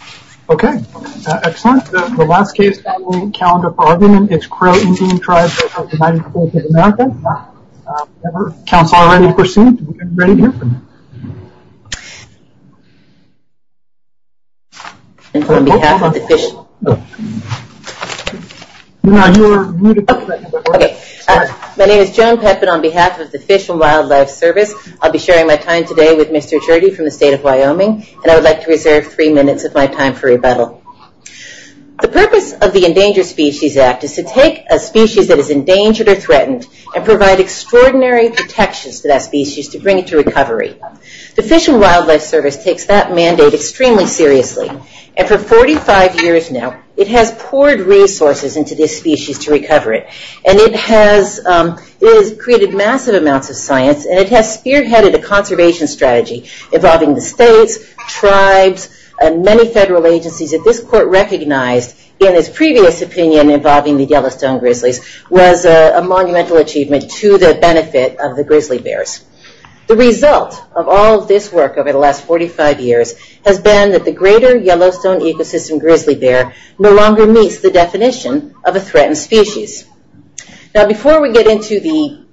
of America. Counts are already perceived. Is everybody hear from them? I'm not able to hear them. I'm sorry. Okay. My name is Joan Peppett on behalf of the Fish and Wildlife Service. I'll be sharing my time today with Mr. Tergee from the state of Wyoming, and I would like to reserve three minutes of my time for rebuttal. The purpose of the Endangered Species Act is to take a species that is endangered or threatened and provide extraordinary protection to that species to bring it to recovery. The Fish and Wildlife Service takes that mandate extremely seriously, and for 45 years now, it has poured resources into this species to recover it, and it has created massive amounts of science, and it has spearheaded a conservation strategy involving the state, tribes, and many federal agencies that this court recognized in its previous opinion involving the Yellowstone Grizzlies was a monumental achievement to the benefit of the grizzly bears. The result of all this work over the last 45 years has been that the greater Yellowstone ecosystem grizzly bear no longer meets the definition of a threatened species. Now, before we get into the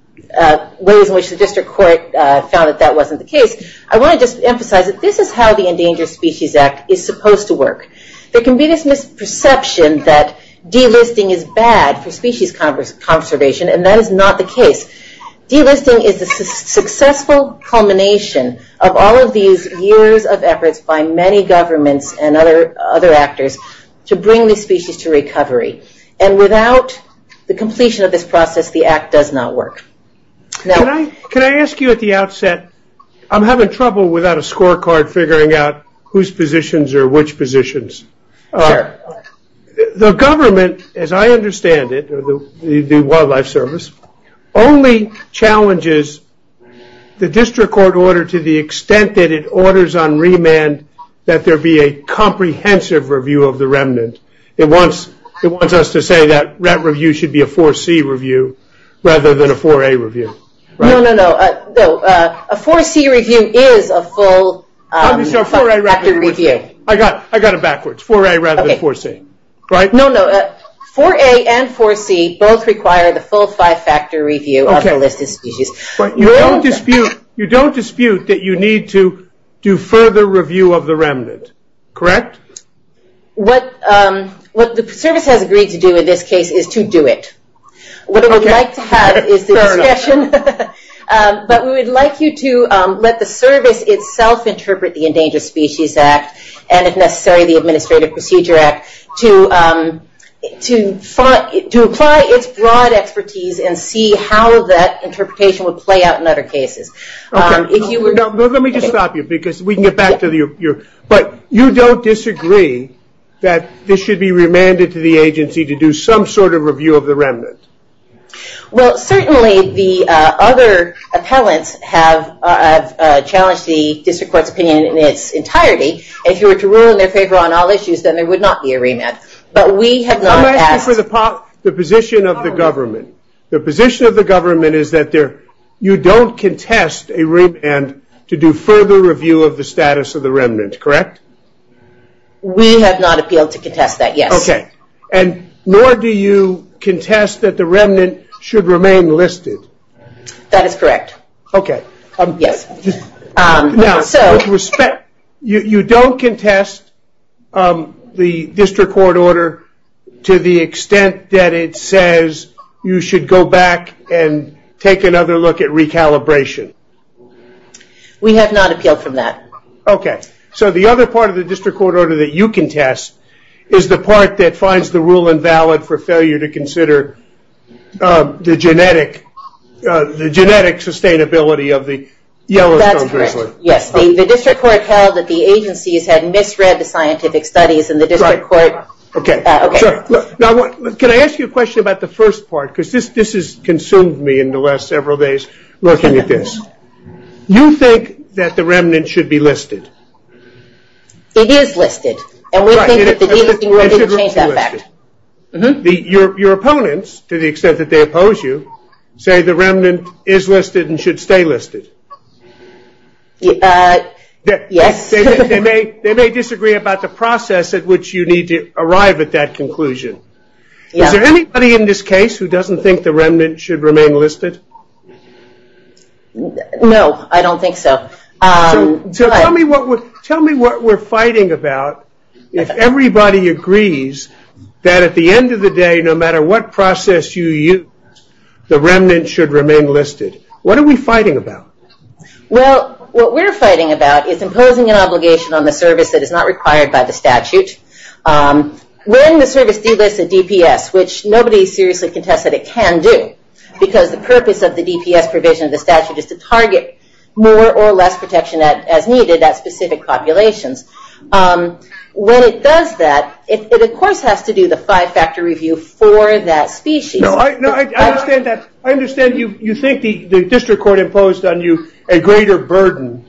ways in which the district court found that that wasn't the case, I want to just emphasize that this is how the Endangered Species Act is supposed to work. There can be this misperception that delisting is bad for species conservation, and that is not the case. Delisting is a successful culmination of all of these years of efforts by many governments and other actors to bring the species to recovery. And without the completion of this process, the act does not work. Now... Can I ask you at the outset, I'm having trouble without a scorecard figuring out whose positions are which positions. Sure. The government, as I understand it, the Wildlife Service, only challenges the district court order to the extent that it orders on remand that there be a comprehensive review of the remnants. It wants us to say that that review should be a 4C review rather than a 4A review. No, no, no. A 4C review is a full five-factor review. I got it backwards. 4A rather than 4C. Right? No, no. 4A and 4C both require the full five-factor review of the listed species. But you don't dispute that you need to do further review of the remnants. Correct? Correct. What the service has agreed to do in this case is to do it. Sorry. But we would like you to let the service itself interpret the Endangered Species Act and, if necessary, the Administrative Procedure Act to apply its broad expertise and see how that interpretation would play out in other cases. Okay. Let me just stop you because we can get back to you. But you don't disagree that this should be remanded to the agency to do some sort of review of the remnants? Well, certainly the other appellants have challenged the District Court's opinion in its entirety. If you were to rule in their favor on all issues, then there would not be a remand. But we have not asked... I'm asking for the position of the government. The position of the government is that you don't contest a remand to do further review of the status of the remnants. Correct? We have not appealed to contest that, yes. Okay. And nor do you contest that the remand should remain listed? That is correct. Okay. Yes. Now, with respect, you don't contest the District Court order to the extent that it says you should go back and take another look at recalibration? We have not appealed from that. Okay. So the other part of the District Court order that you contest is the part that finds the rule invalid for failure to consider the genetic sustainability of the Yellowstone District? That's correct. Yes. The District Court held that the agencies had misread the scientific studies and the District Court... Okay. Sure. Now, can I ask you a question about the first part? Because this has consumed me in the last several days looking at this. You think that the remnant should be listed? It is listed. And we think that the remnant should be listed. Your opponents, to the extent that they oppose you, say the remnant is listed and should stay listed? Yes. They may disagree about the process at which you need to arrive at that conclusion. Is there anybody in this case who doesn't think the remnant should remain listed? No, I don't think so. Tell me what we're fighting about if everybody agrees that at the end of the day, no matter what process you use, the remnant should remain listed. What are we fighting about? Well, what we're fighting about is imposing an obligation on the service that is not required by the statute. When the service delists a DPS, which nobody seriously contests that it can do, because the purpose of the DPS provision of the statute is to target more or less protection as needed at specific populations, when it does that, it of course has to do the five-factor review for that species. No, I understand that. I understand you think the district court imposed on you a greater burden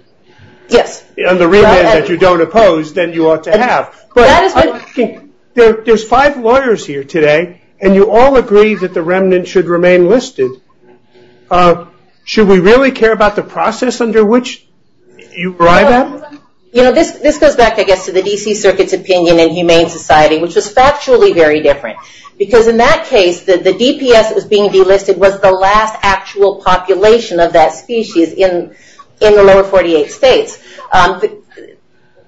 on the remnant that you don't oppose than you ought to have. There's five lawyers here today and you all agree that the remnant should remain listed. Should we really care about the process under which you write that? This goes back, I guess, to the D.C. Circuit's opinion in Humane Society, which is factually very different. Because in that case, the DPS that was being delisted was the last actual population of that species in the lower 48 states.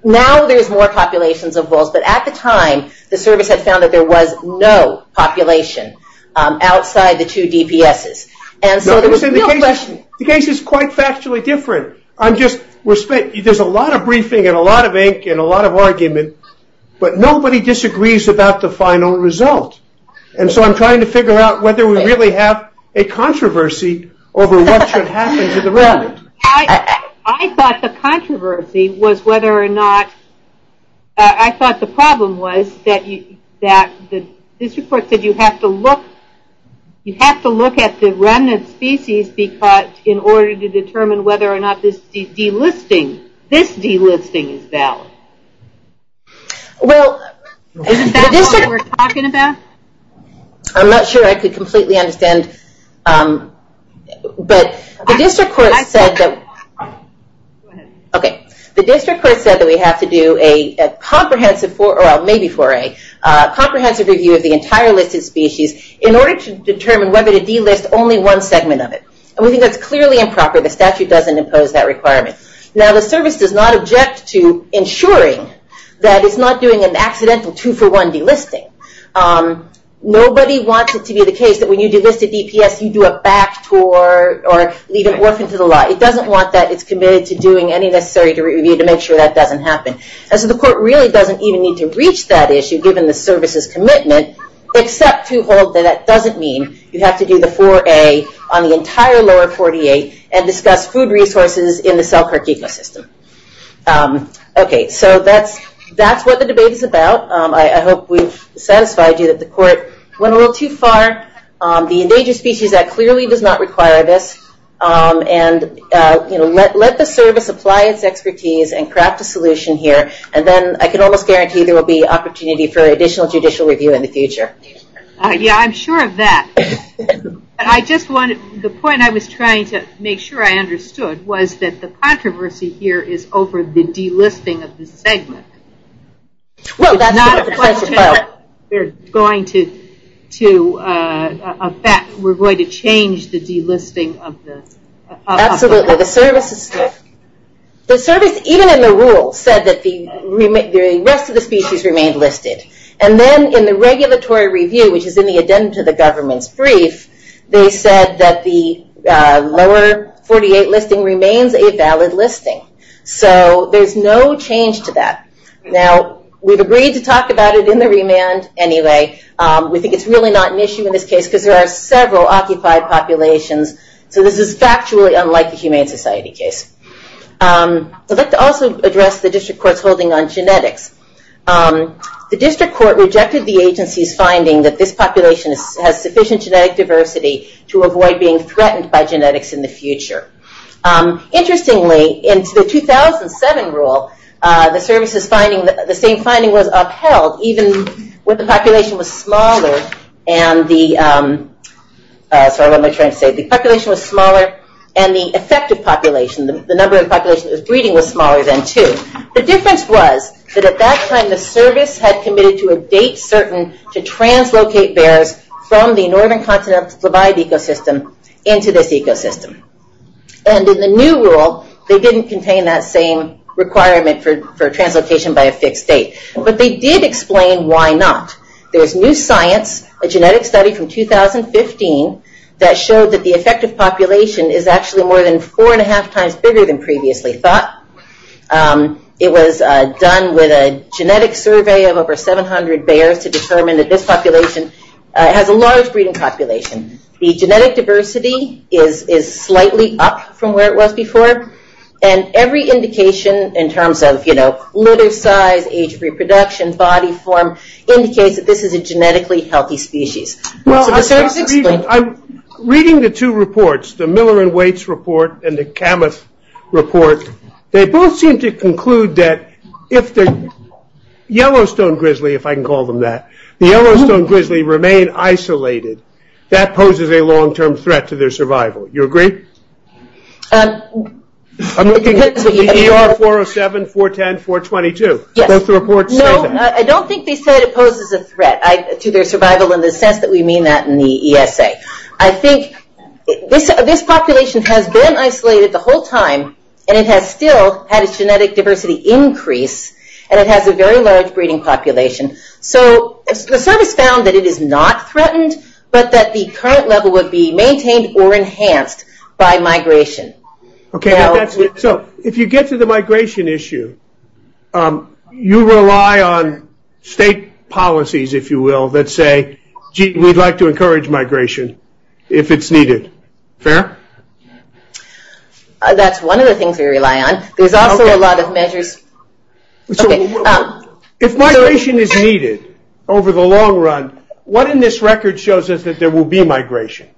Now there's more populations involved, but at the time, the service had found that there was no population outside the two DPSs. The case is quite factually different. There's a lot of briefing and a lot of ink and a lot of argument, but nobody disagrees about the final result. And so I'm trying to figure out whether we really have a controversy over what should happen to the remnant. I thought the controversy was whether or not, I thought the problem was that this report said you have to look at the remnant species in order to determine whether or not this delisting, this delisting is valid. Is that what we're talking about? I'm not sure I could completely understand. But the district court said that we have to do a comprehensive review of the entire listed species in order to determine whether to delist only one segment of it. And we think that's clearly improper. The statute doesn't impose that requirement. Now the service does not object to ensuring that it's not doing an accidental two-for-one delisting. Nobody wants it to be the case that when you delist at EPS, you do a back tour or you just walk into the lot. It doesn't want that. It's committed to doing any necessary review to make sure that doesn't happen. And so the court really doesn't even need to reach that issue, given the service's commitment, except to hold that it doesn't mean you have to do the 4A on the entire lower 48 and discuss food resources in the cell cartegia system. Okay, so that's what the debate is about. I hope we've satisfied you that the court went a little too far. The endangered species act clearly does not require this. And let the service apply its expertise and craft a solution here. And then I can almost guarantee there will be opportunity for additional judicial review in the future. Yeah, I'm sure of that. The point I was trying to make sure I understood was that the controversy here is over the delisting of the segment. Well, that's not a controversy. It's going to affect, we're going to change the delisting of the... Absolutely. The service, even in the rule, said that the rest of the species remained listed. And then in the regulatory review, which is in the Addendum to the Government brief, they said that the lower 48 listing remains a valid listing. So there's no change to that. Now, we've agreed to talk about it in the remand anyway. We think it's really not an issue in this case because there are several occupied populations. So this is factually unlike the Humane Society case. Let's also address the district court's holding on genetics. The district court rejected the agency's finding that this population has sufficient genetic diversity to avoid being threatened by genetics in the future. Interestingly, in the 2007 rule, the same finding was upheld, even when the population was smaller and the... Sorry about my French. The population was smaller and the affected population, the number of population that was breeding, was smaller than two. The difference was that at that time, the service had committed to abate certain to translocate bears from the northern continent into this ecosystem. And in the new rule, they didn't contain that same requirement for translocation by a fixed date. But they did explain why not. There's new science, a genetic study from 2015, that showed that the affected population is actually more than four and a half times bigger than previously thought. It was done with a genetic survey of over 700 bears to determine that this population has a large breeding population. The genetic diversity is slightly up from where it was before. And every indication in terms of litter size, age, reproduction, body form, indicates that this is a genetically healthy species. Reading the two reports, the Miller and Waits report and the Camas report, they both seem to conclude that if the Yellowstone grizzly, if I can call them that, the Yellowstone grizzly remain isolated, that poses a long-term threat to their survival. Do you agree? I'm looking at CDR 407, 410, 422. Does the report say that? No, I don't think they said it poses a threat to their survival in the sense that we mean that in the ESA. I think this population has been isolated the whole time, and it has still had a genetic diversity increase, and it has a very large breeding population. So it's sort of found that it is not threatened, but that the current level would be maintained or enhanced by migration. Okay, so if you get to the migration issue, you rely on state policies, if you will, that say, we'd like to encourage migration if it's needed. Fair? That's one of the things we rely on. There's also a lot of measures. Okay. If migration is needed over the long run, what in this record shows us that there will be migration?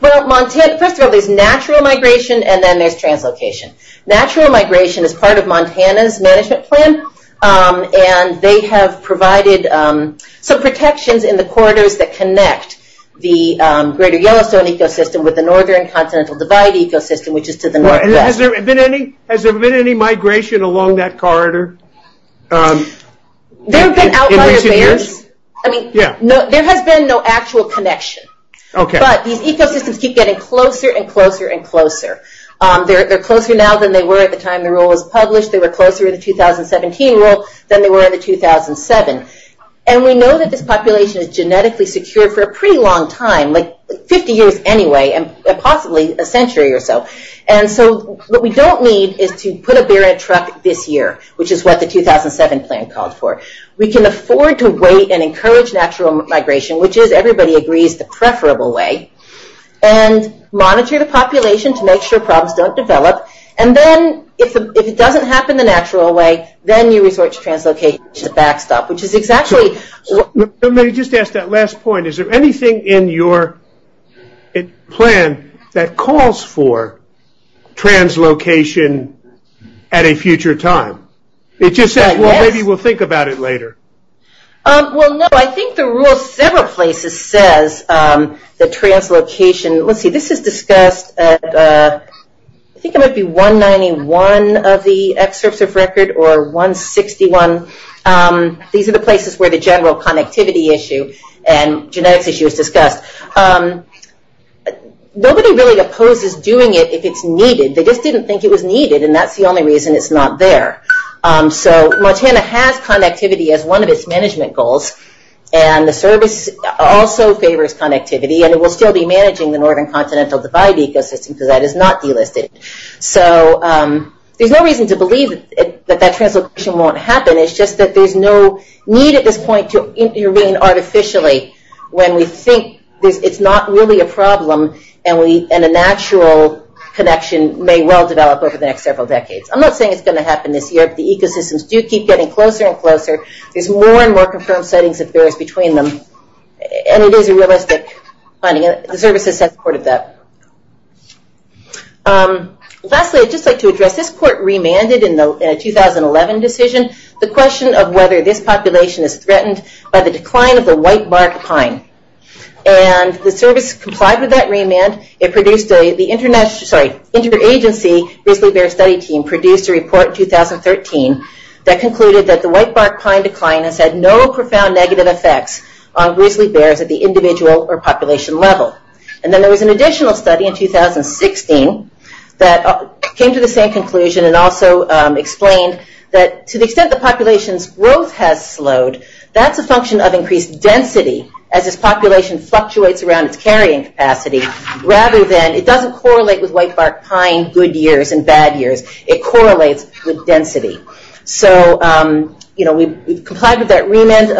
Well, first there'll be natural migration, and then there's translocation. Natural migration is part of Montana's management plan, and they have provided some protections in the corridors that connect the Greater Yellowstone ecosystem with the Northern Continental Divide ecosystem, which is to the northwest. Has there been any migration along that corridor in recent years? There has been no actual connection, but these ecosystems keep getting closer and closer and closer. They're closer now than they were at the time the rule was published. They were closer in the 2017 rule than they were in the 2007. And we know that this population is genetically secured for a pretty long time, like 50 years anyway, and possibly a century or so. And so what we don't need is to put a bear in a truck this year, which is what the 2007 plan called for. We can afford to wait and encourage natural migration, which is, everybody agrees, the preferable way, and monitor the population to make sure problems don't develop. And then if it doesn't happen the natural way, then you resort to translocation to back up, which is exactly... Let me just ask that last point. Is there anything in your plan that calls for translocation at a future time? It just says, well, maybe we'll think about it later. Well, no. I think the rule in several places says that translocation... Let's see. This is discussed at... I think it might be 191 of the excerpts of record or 161. These are the places where the general connectivity issue and genetic issues discuss. Nobody really opposes doing it if it's needed. They just didn't think it was needed, and that's the only reason it's not there. So Montana has connectivity as one of its management goals, and the service also favors connectivity, and it will still be managing the northern continental divide ecosystem, so that is not delisted. So there's no reason to believe that that translocation won't happen. It's just that there's no need at this point to intervene artificially when we think it's not really a problem and a natural connection may well develop over the next several decades. I'm not saying it's going to happen this year. The ecosystems do keep getting closer and closer. There's more and more confirmed sightings of bears between them, and it is a realistic finding. The services have reported that. Lastly, I'd just like to address... This court remanded in the 2011 decision the question of whether this population is threatened by the decline of the whitebark pine, and the service complied with that remand. It produced a... The international... Sorry. Interagency Ridgely Bears Study Team produced a report in 2013 that concluded that the whitebark pine decline has had no profound negative effects on Ridgely Bears at the individual or population level, and then there was an additional study in 2016 that came to the same conclusion and also explained that to the extent the whitebark has slowed, that's a function of increased density, as this population fluctuates around its carrying capacity, rather than... It doesn't correlate with whitebark pine good years and bad years. It correlates with density. So, you know, we've complied with that remand.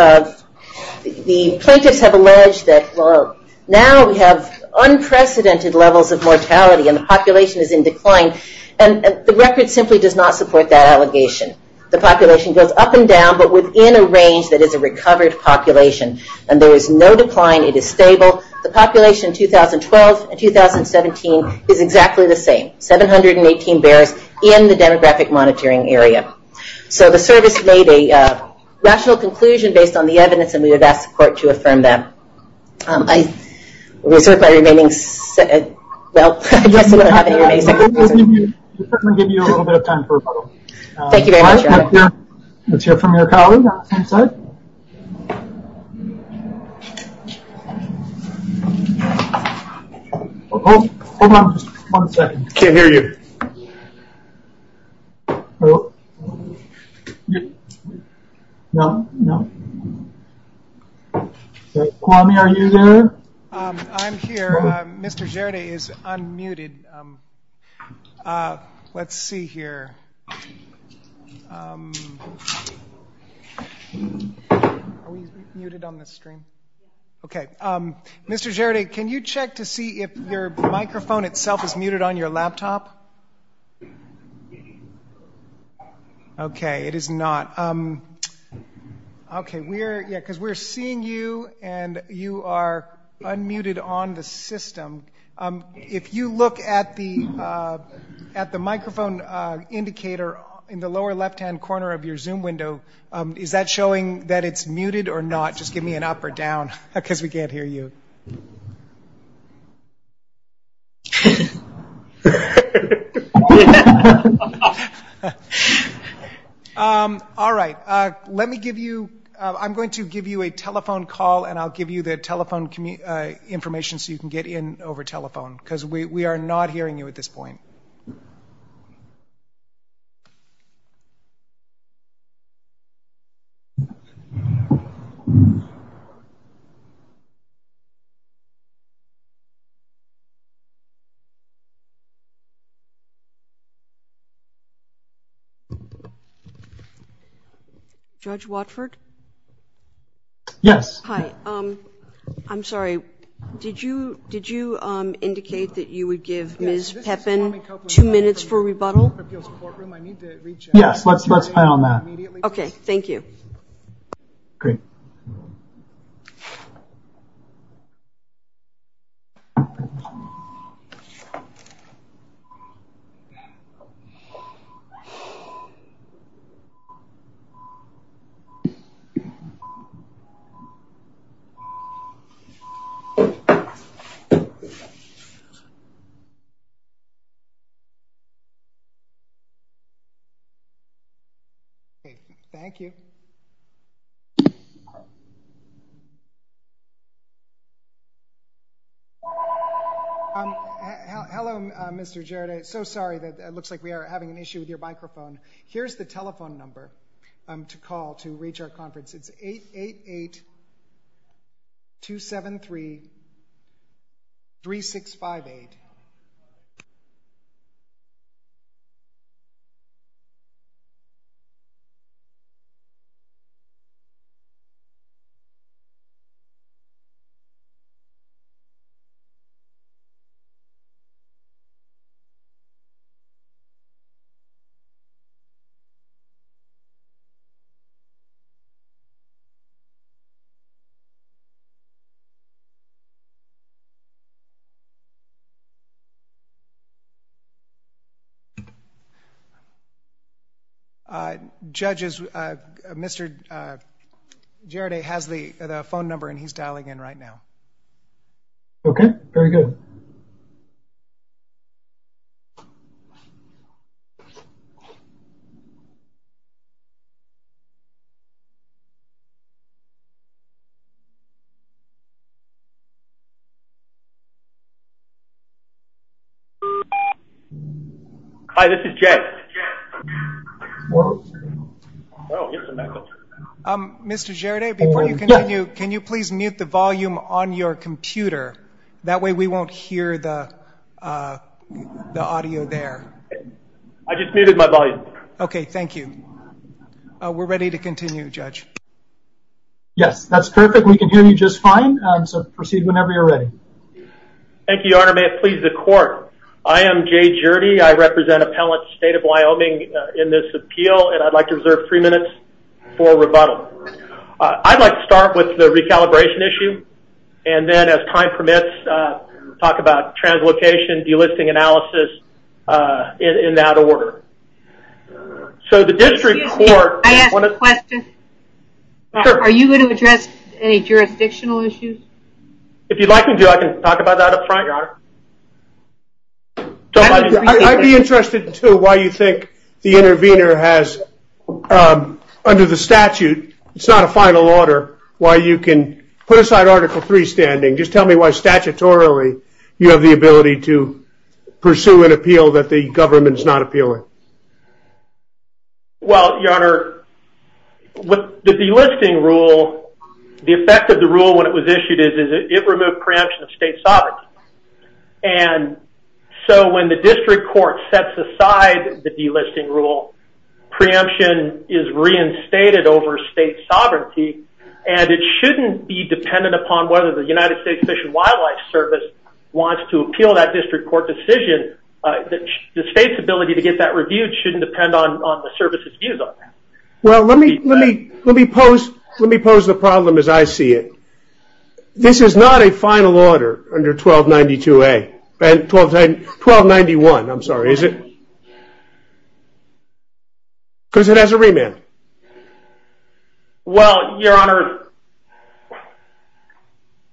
The plaintiffs have alleged that, well, now we have unprecedented levels of mortality and the population is in decline, and the record simply does not support that allegation. The population goes up and down, but within a range that is a recovered population, and there is no decline. It is stable. The population in 2012 and 2017 is exactly the same, 718 bears in the demographic monitoring area. So the service made a rational conclusion based on the evidence and we would ask the court to affirm that. I... Well, I guess we don't have anything... Let me give you a little bit of time for a moment. Thank you very much. Let's hear from your colleague on this side. Hold on just one second. Can't hear you. No, no. Kwame, are you there? I'm here. Mr. Gerda is unmuted. Let's see here. Are we muted on the screen? Okay. Mr. Gerda, can you check to see if your microphone itself is muted on your laptop? Okay, it is not. Okay, we're... Yeah, because we're seeing you and you are unmuted on the system. If you look at the microphone indicator in the lower left-hand corner of your Zoom window, is that showing that it's muted or not? Just give me an up or down because we can't hear you. All right. Let me give you... I'm going to give you a telephone call and I'll give you the telephone information so you can get in over telephone because we are not hearing you at this point. Judge Watford? Yes. Hi. I'm sorry. Did you indicate that you would give Ms. Pepin two minutes for rebuttal? Yes. Let's play on that. Okay. Thank you. Great. Okay. Thank you. Hello, Mr. Jarrett. I'm so sorry. It looks like we are having an issue with your microphone. Here's the telephone number to call to reach our conference. It's 888-273-3658. Judges, Mr. Jarrett has the phone number and he's dialing in right now. Okay. Very good. Thank you. Hi, this is Jeff. Mr. Jarrett, before you continue, can you please mute the volume on your computer? That way we won't hear the audio there. I just muted my volume. Okay. Thank you. We're ready to continue, Judge. Yes. That's perfect. We can hear you just fine, so proceed whenever you're ready. Thank you, Your Honor. May it please the court. I am Jay Jurdy. I represent Appellant State of Wyoming in this appeal and I'd like to reserve three minutes for rebuttal. I'd like to start with the recalibration issue and then, as time permits, talk about translocation, delisting analysis, in that order. I have a question. Are you going to address any jurisdictional issues? If you'd like me to, I can talk about that up front, Your Honor. I'd be interested, too, why you think the intervener has, under the statute, it's not a final order, why you can put aside Article III standing. Just tell me why, statutorily, you have the ability to pursue an appeal that the government's not appealing. Well, Your Honor, with the delisting rule, the effect of the rule when it was issued is it removed preemption of state sovereignty. And so, when the district court sets aside the delisting rule, preemption is reinstated over state sovereignty and it shouldn't be dependent upon whether the United States Fish and Wildlife Service wants to appeal that district court decision. The state's ability to get that reviewed shouldn't depend on the services used on that. Well, let me pose the problem as I see it. This is not a final order under 1292A, 1291, I'm sorry, is it? Because it has a remand. Well, Your Honor,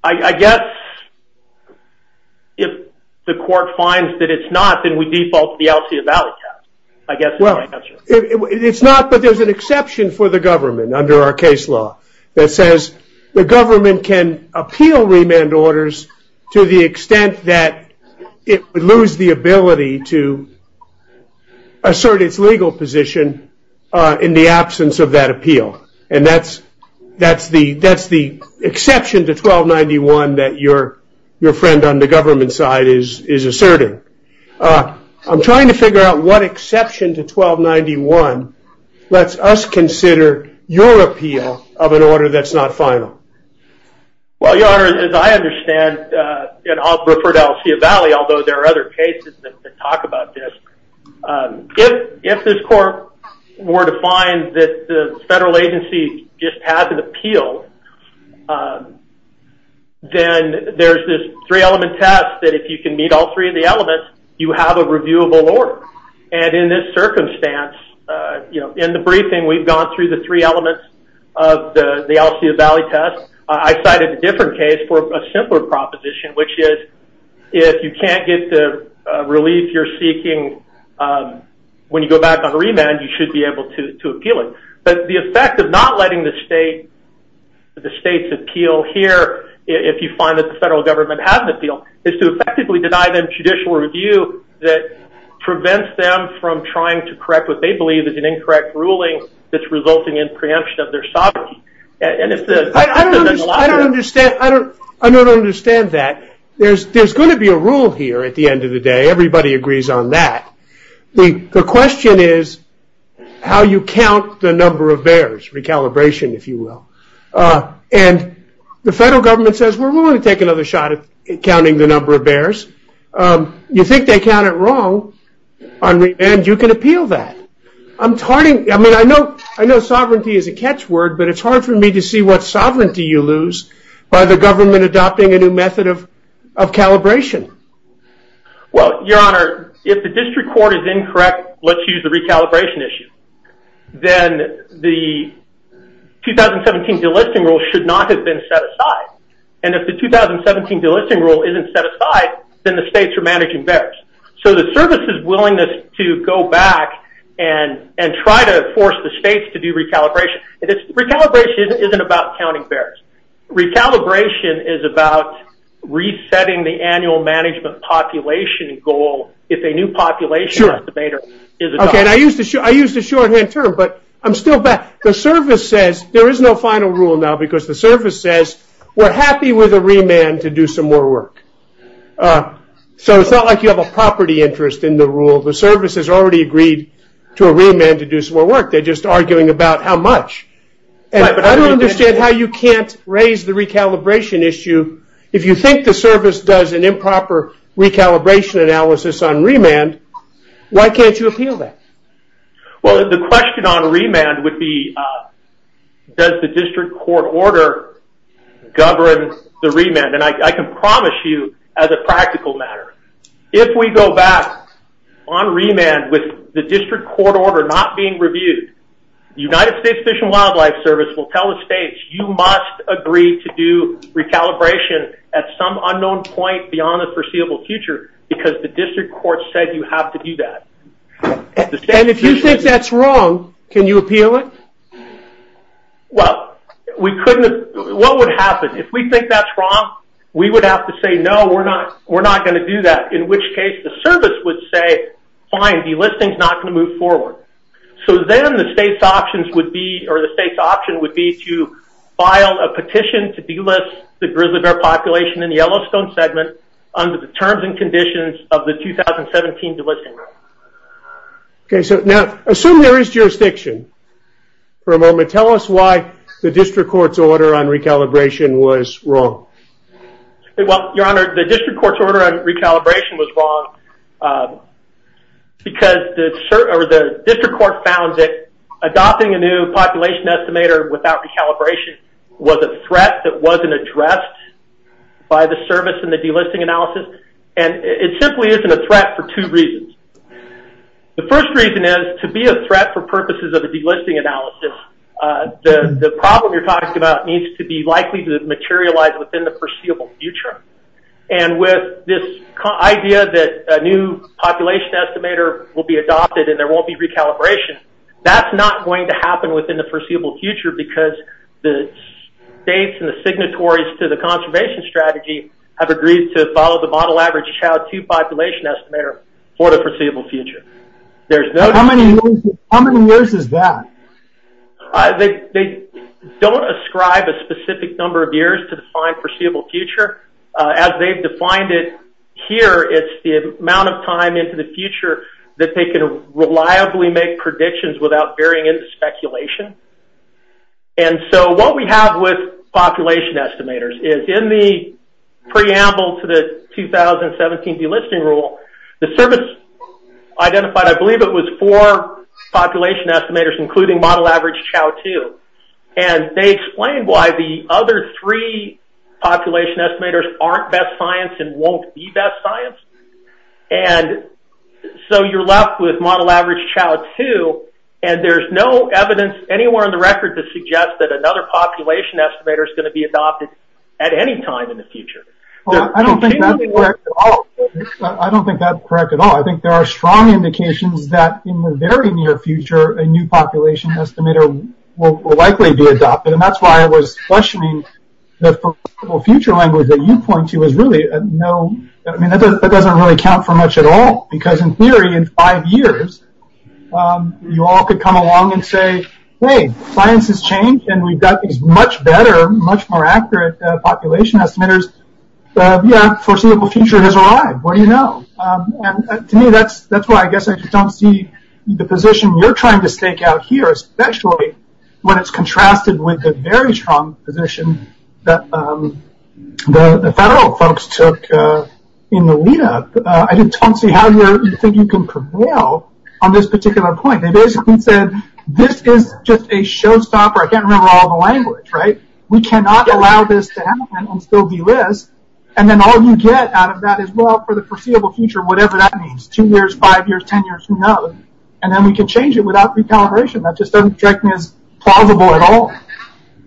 I guess, if the court finds that it's not, then we default to the Altia Valley Act. It's not that there's an exception for the government under our case law that says the government can appeal remand orders to the extent that it would lose the ability to assert its legal position in the absence of that appeal. And that's the exception to 1291 that your friend on the government side is asserting. I'm trying to figure out what exception to 1291 lets us consider your appeal of an order that's not final. Well, Your Honor, as I understand, and I'll refer to Altia Valley, although there are other cases that talk about this, if this court were to find that the federal agency just hasn't appealed, then there's this three-element test that if you can meet all three of the elements, you have a reviewable order. And in this circumstance, in the briefing, we've gone through the three elements of the Altia Valley test. I cited a different case for a simpler proposition, which is if you can't get the relief you're seeking when you go back on remand, you should be able to appeal it. But the effect of not letting the state, the states appeal here, if you find that the federal government hasn't appealed, is to effectively deny them judicial review that prevents them from trying to correct what they believe is an incorrect ruling that's resulting in preemption of their sovereignty. And it's a- I don't understand. I don't understand that. There's going to be a rule here at the end of the day. Everybody agrees on that. The question is how you count the number of bears, recalibration, if you will. And the federal government says, we're willing to take another shot at counting the number of bears. You think they count it wrong, and you can appeal that. I'm tardy. I mean, I know sovereignty is a catch word, but it's hard for me to see what sovereignty you lose by the government adopting a new method of calibration. Well, Your Honor, if the district court is incorrect, let's use the recalibration issue, then the 2017 delisting rule should not have been set aside. And if the 2017 delisting rule isn't set aside, then the states are managing bears. So the service's willingness to go back and try to force the states to do recalibration, recalibration isn't about counting bears. Recalibration is about resetting the annual management population goal if a new population estimator is adopted. I used a shorthand term, but I'm still back. The service says there is no final rule now because the service says, we're happy with a remand to do some more work. So it's not like you have a property interest in the rule. The service has already agreed to a remand to do some more work. They're just arguing about how much. I don't understand how you can't raise the recalibration issue. If you think the service does an improper recalibration analysis on remand, why can't you appeal that? Well, the question on remand would be, does the district court order govern the remand? And I can promise you as a practical matter, if we go back on remand with the district court order not being reviewed, the United States Fish and Wildlife Service will tell the states, you must agree to do recalibration at some unknown point beyond the foreseeable future because the district court said you have to do that. And if you think that's wrong, can you appeal it? Well, what would happen? If we think that's wrong, we would have to say, no, we're not going to do that. In which case the service would say, fine, the listing's not going to move forward. So then the state's option would be to file a petition to delist the grizzly bear population in the Yellowstone segment under the terms and conditions of the 2017 delisting. Okay, so now assume there is jurisdiction. For a moment, tell us why the district court's order on recalibration was wrong. Well, Your Honor, the district court's order on recalibration was wrong because the district court found that adopting a new population estimator without recalibration was a threat that wasn't addressed by the service in the delisting analysis. And it simply isn't a threat for two reasons. The first reason is to be a threat for purposes of a delisting analysis, the problem you're talking about needs to be likely to materialize within the foreseeable future. And with this idea that a new population estimator will be adopted and there won't be recalibration, that's not going to happen within the foreseeable future because the states and the signatories to the conservation strategy have agreed to follow the model average child two population estimator for the foreseeable future. How many years is that? They don't ascribe a specific number of years to define foreseeable future. As they've defined it here, it's the amount of time into the future that they can reliably make predictions without veering into speculation. And so what we have with population estimators is in the preamble to the 2017 delisting rule, the service identified, I believe it was four population estimators including model average child two. And they explained why the other three population estimators aren't best science and won't be best science. And so you're left with model average child two and there's no evidence anywhere on the record to suggest that another population estimator is going to be adopted at any time in the future. I don't think that's correct at all. I think there are strong indications that in the very near future, a new population estimator will likely be adopted. And that's why I was questioning the foreseeable future language that you point to. I mean, that doesn't really count for much at all because in theory, in five years, you all could come along and say, hey, science has changed and we've got much better, much more accurate population estimators. So yeah, foreseeable future has arrived. What do you know? To me, that's why I guess I just don't see the position you're trying to stake out here, especially when it's contrasted with the very strong position that the federal folks took in the lead up. I just don't see how you think you can prevail on this particular point. They basically said, this is just a showstopper. I can't remember all the language, right? We cannot allow this to happen and still be this. And then all you get out of that is, well, for the foreseeable future, whatever that means, two years, five years, 10 years, who knows? And then we can change it without recalibration. That just doesn't seem plausible at all.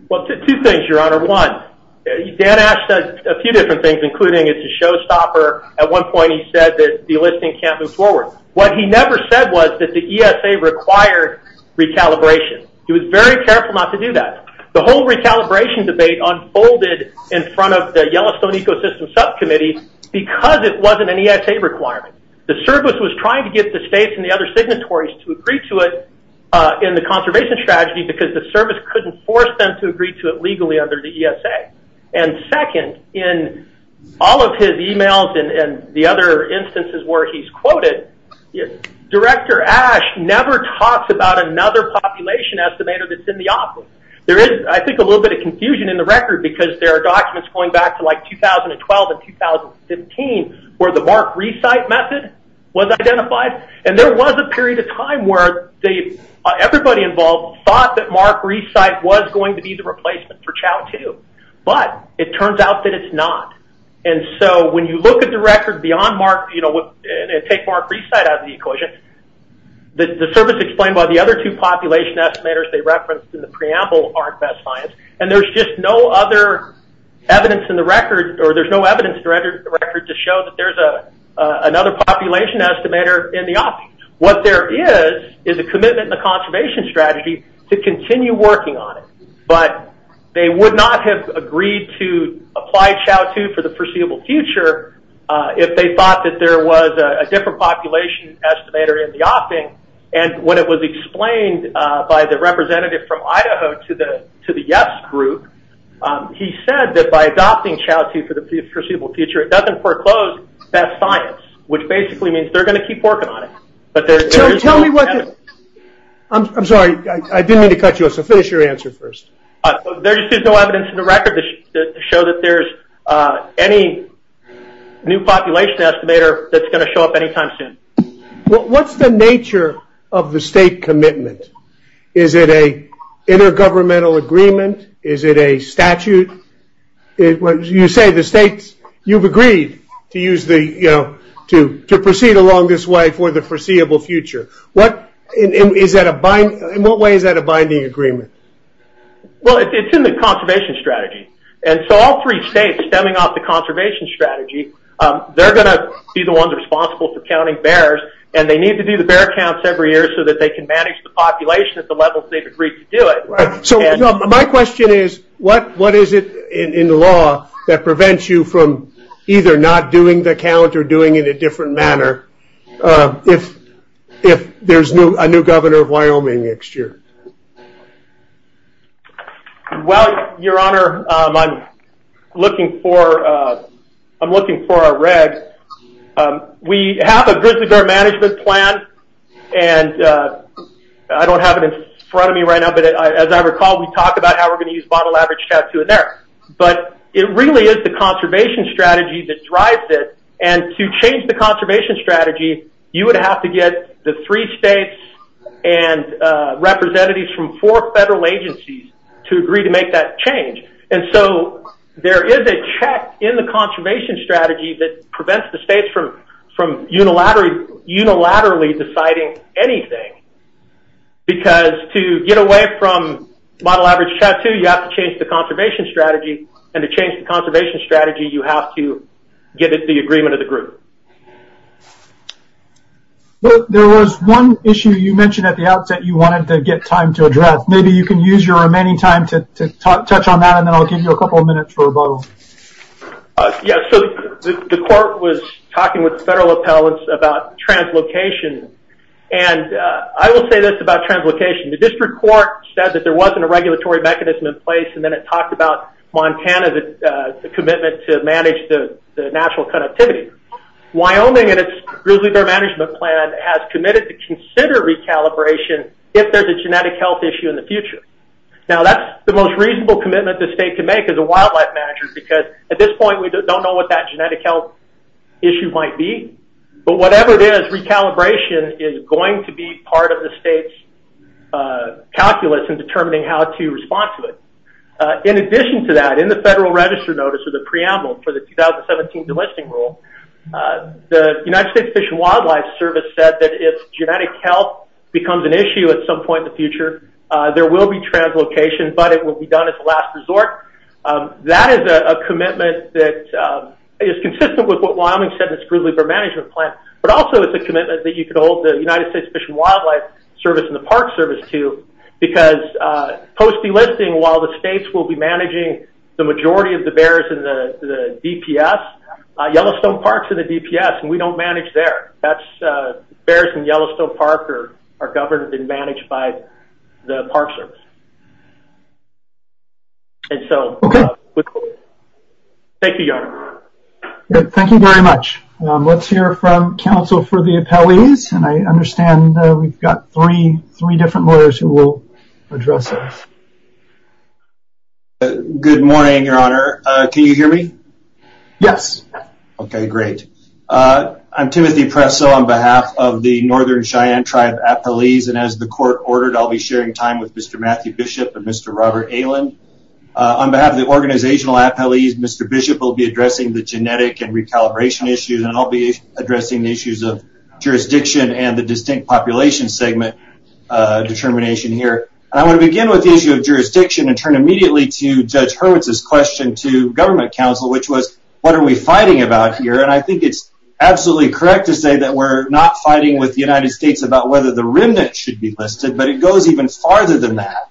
Well, two things, Your Honor. One, Dan Ash said a few different things, including it's a showstopper. At one point, he said that the listing can't move forward. What he never said was that the ESA required recalibration. He was very careful not to do that. The whole recalibration debate unfolded in front of the Yellowstone Ecosystem Subcommittee because it wasn't an ESA requirement. The service was trying to get the states and the other signatories to agree to it in the conservation strategy because the service couldn't force them to agree to it legally under the ESA. And second, in all of his emails and the other instances where he's quoted, Director Ash never talks about another population estimator that's in the office. There is, I think, a little bit of confusion in the record because there are documents going back to 2012 and 2015 where the mark-resite method was identified. And there was a period of time where everybody involved thought that mark-resite was going to be the replacement for CHOW-2. But it turns out that it's not. And so when you look at the record beyond mark, and take mark-resite out of the equation, the service explained by the other two population estimators they referenced in the preamble aren't best science. And there's just no other evidence in the record, or there's no evidence in the record to show that there's another population estimator in the opting. What there is is a commitment in the conservation strategy to continue working on it. But they would not have agreed to apply CHOW-2 for the foreseeable future if they thought that there was a different population estimator in the opting. And when it was explained by the representative from Idaho to the YES group, he said that by adopting CHOW-2 for the foreseeable future, it doesn't foreclose best science, which basically means they're going to keep working on it. But there is no evidence. I'm sorry. I didn't mean to cut you off. So finish your answer first. There just is no evidence in the record to show that there's any new population estimator that's going to show up any time soon. What's the nature of the state commitment? Is it a intergovernmental agreement? Is it a statute? You say the states, you've agreed to proceed along this way for the foreseeable future. In what way is that a binding agreement? Well, it's in the conservation strategy. And so all three states, stemming off the conservation strategy, they're going to be the ones responsible for counting bears. And they need to do the bear counts every year so that they can manage the population at the level they agree to do it. So my question is, what is it in the law that prevents you from either not doing the count or doing it a different manner if there's a new governor of Wyoming next year? Well, Your Honor, I'm looking for a red. We have a visitor management plan. And I don't have it in front of me right now. But as I recall, we talked about how we're going to use bottle average to do it there. But it really is the conservation strategy that drives it. And to change the conservation strategy, you would have to get the three states and representatives from four federal agencies to agree to make that change. And so there is a check in the conservation strategy that prevents the states from unilaterally deciding anything. Because to get away from bottle average tattoo, you have to change the conservation strategy. And to change the conservation strategy, you have to get it to the agreement of the group. There was one issue you mentioned at the outset you wanted to get time to address. Maybe you can use your remaining time to touch on that. And then I'll give you a couple of minutes for a vote. Yeah, so the court was talking with federal appellants about translocation. And I will say this about translocation. The district court said that there wasn't a regulatory mechanism in place. And then it talked about Montana's commitment to manage the natural connectivity. Wyoming and its grizzly bear management plan has committed to consider recalibration if there's a genetic health issue in the future. Now, that's the most reasonable commitment the state can make as a wildlife manager. Because at this point, we don't know what that genetic health issue might be. But whatever it is, recalibration is going to be part of the state's calculus in determining how to respond to it. In addition to that, in the federal register notice or the preamble for the 2017 delisting rule, the United States Fish and Wildlife Service said that if genetic health becomes an issue at some point in the future, there will be translocation. But it will be done at the last resort. That is a commitment that is consistent with what Wyoming said in its grizzly bear management plan. But also, it's a commitment that you can hold the United States Fish and Wildlife Service and the Park Service to. Because post delisting, while the states will be managing the majority of the bears in the DPS, Yellowstone Park's in the DPS. And we don't manage there. Bears in Yellowstone Park are governed and managed by the Park Service. And so, thank you, John. Thank you very much. Let's hear from counsel for the appellees. And I understand we've got three different lawyers who will address this. Good morning, Your Honor. Can you hear me? Yes. Okay, great. I'm Timothy Presso on behalf of the Northern Cheyenne Tribe appellees, and as the court ordered, I'll be sharing time with Mr. Matthew Bishop and Mr. Robert Aylin. On behalf of the organizational appellees, Mr. Bishop will be addressing the genetic and recalibration issues, and I'll be addressing the issues of jurisdiction and the distinct population segment determination here. I want to begin with the issue of jurisdiction and turn immediately to Judge Hurwitz's question to government counsel, which was, what are we fighting about here? And I think it's absolutely correct to say that we're not fighting with the United States about whether the remnant should be listed, but it goes even farther than that.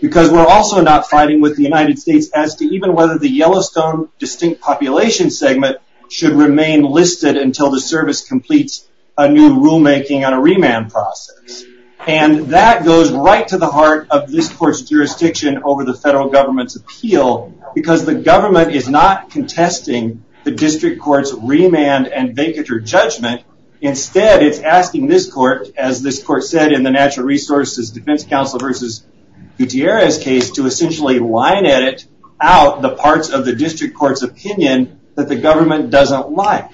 Because we're also not fighting with the United States as to even whether the Yellowstone distinct population segment should remain listed until the service completes a new rulemaking and a remand process. And that goes right to the heart of this court's jurisdiction over the federal government's appeal, because the government is not contesting the district court's remand and vacature judgment. Instead, it's asking this court, as this court said in the Natural Resources Defense versus Gutierrez case, to essentially line out the parts of the district court's opinion that the government doesn't like.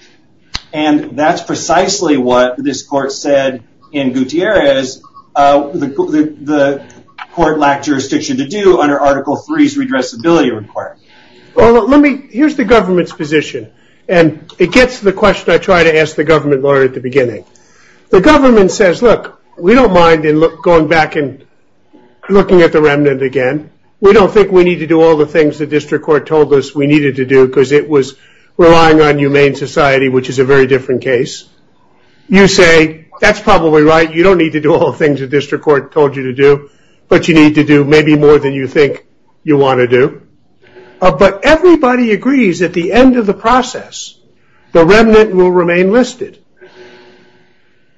And that's precisely what this court said in Gutierrez that the court lacked jurisdiction to do under Article III's redressability requirements. Here's the government's position. And it gets to the question I tried to ask the government lawyer at the beginning. The government says, look, we don't mind going back and looking at the remnant again. We don't think we need to do all the things the district court told us we needed to do, because it was relying on humane society, which is a very different case. You say, that's probably right. You don't need to do all the things the district court told you to do. But you need to do maybe more than you think you want to do. But everybody agrees at the end of the process, the remnant will remain listed.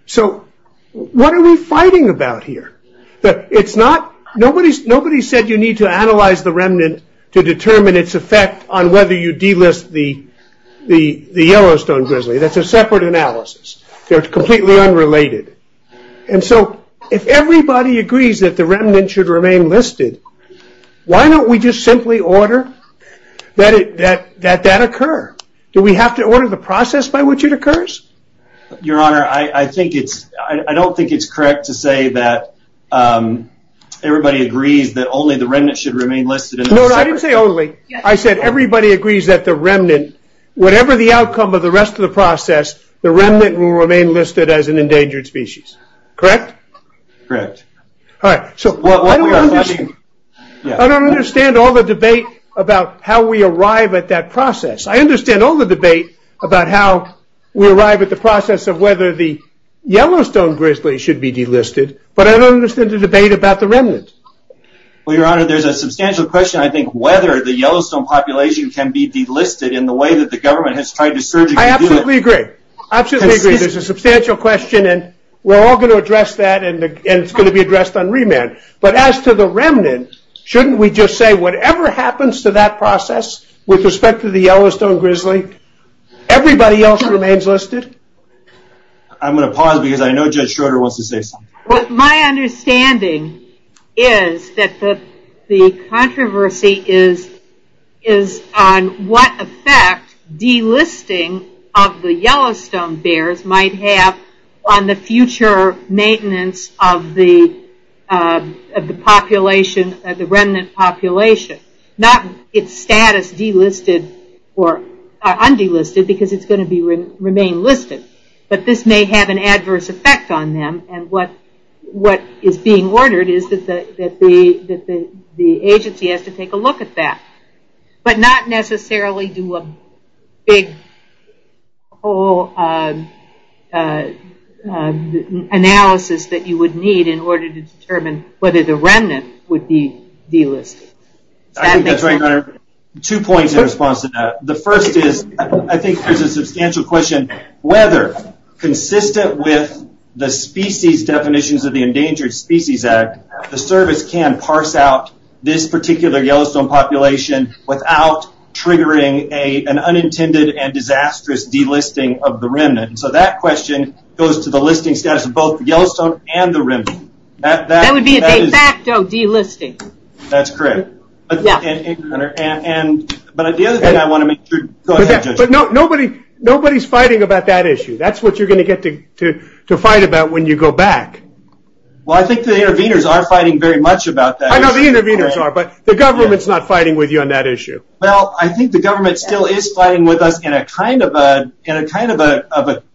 So what are we fighting about here? Nobody said you need to analyze the remnant to determine its effect on whether you delist the Yellowstone grizzly. That's a separate analysis. They're completely unrelated. And so if everybody agrees that the remnant should remain listed, why don't we just simply order that that occur? Do we have to order the process by which it occurs? Your Honor, I think it's, I don't think it's correct to say that everybody agrees that only the remnant should remain listed. No, I didn't say only. I said everybody agrees that the remnant, whatever the outcome of the rest of the process, the remnant will remain listed as an endangered species. Correct? Correct. All right. So I don't understand all the debate about how we arrive at that process. I understand all the debate about how we arrive at the process of whether the Yellowstone grizzly should be delisted, but I don't understand the debate about the remnant. Well, Your Honor, there's a substantial question, I think, whether the Yellowstone population can be delisted in the way that the government has tried to surgically do it. I absolutely agree. Absolutely agree. There's a substantial question, and we're all going to address that, and it's going to be addressed on remand. But as to the remnant, shouldn't we just say whatever happens to that process with respect to the Yellowstone grizzly, everybody else remains listed? I'm going to pause because I know Judge Schroeder wants to say something. What my understanding is that the controversy is on what effect delisting of the Yellowstone bears might have on the future maintenance of the population, the remnant population. Not its status delisted or undelisted, because it's going to remain listed. But this may have an adverse effect on them, and what is being ordered is that the agency has to take a look at that. But not necessarily do a big analysis that you would need in order to determine whether the remnant would be delisted. Two points in response to that. The first is, I think this is a substantial question, whether consistent with the species definitions of the Endangered Species Act, the service can parse out this particular Yellowstone population without triggering an unintended and disastrous delisting of the remnant. So that question goes to the listing status of both Yellowstone and the remnant. That would be a de facto delisting. That's correct. But the other thing I want to make sure. But nobody's fighting about that issue. That's what you're going to get to fight about when you go back. Well, I think the interveners are fighting very much about that issue. I know the interveners are, but the government's not fighting with you on that issue. Well, I think the government still is fighting with us in a kind of an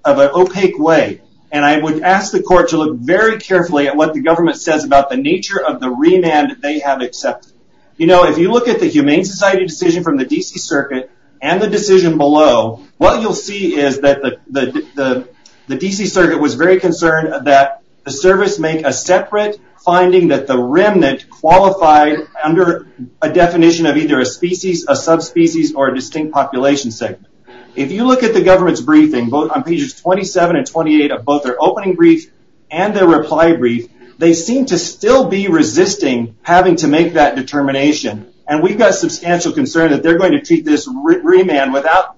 opaque way. And I would ask the court to look very carefully at what the government says about the nature of the remand that they have accepted. You know, if you look at the Humane Society decision from the D.C. Circuit and the decision below, what you'll see is that the D.C. Circuit was very concerned that the service made a separate finding that the remnant qualified under a definition of either a species, a subspecies, or a distinct population segment. If you look at the government's briefing, on pages 27 and 28 of both their opening brief and their reply brief, they seem to still be resisting having to make that determination. And we've got substantial concern that they're going to keep this remand without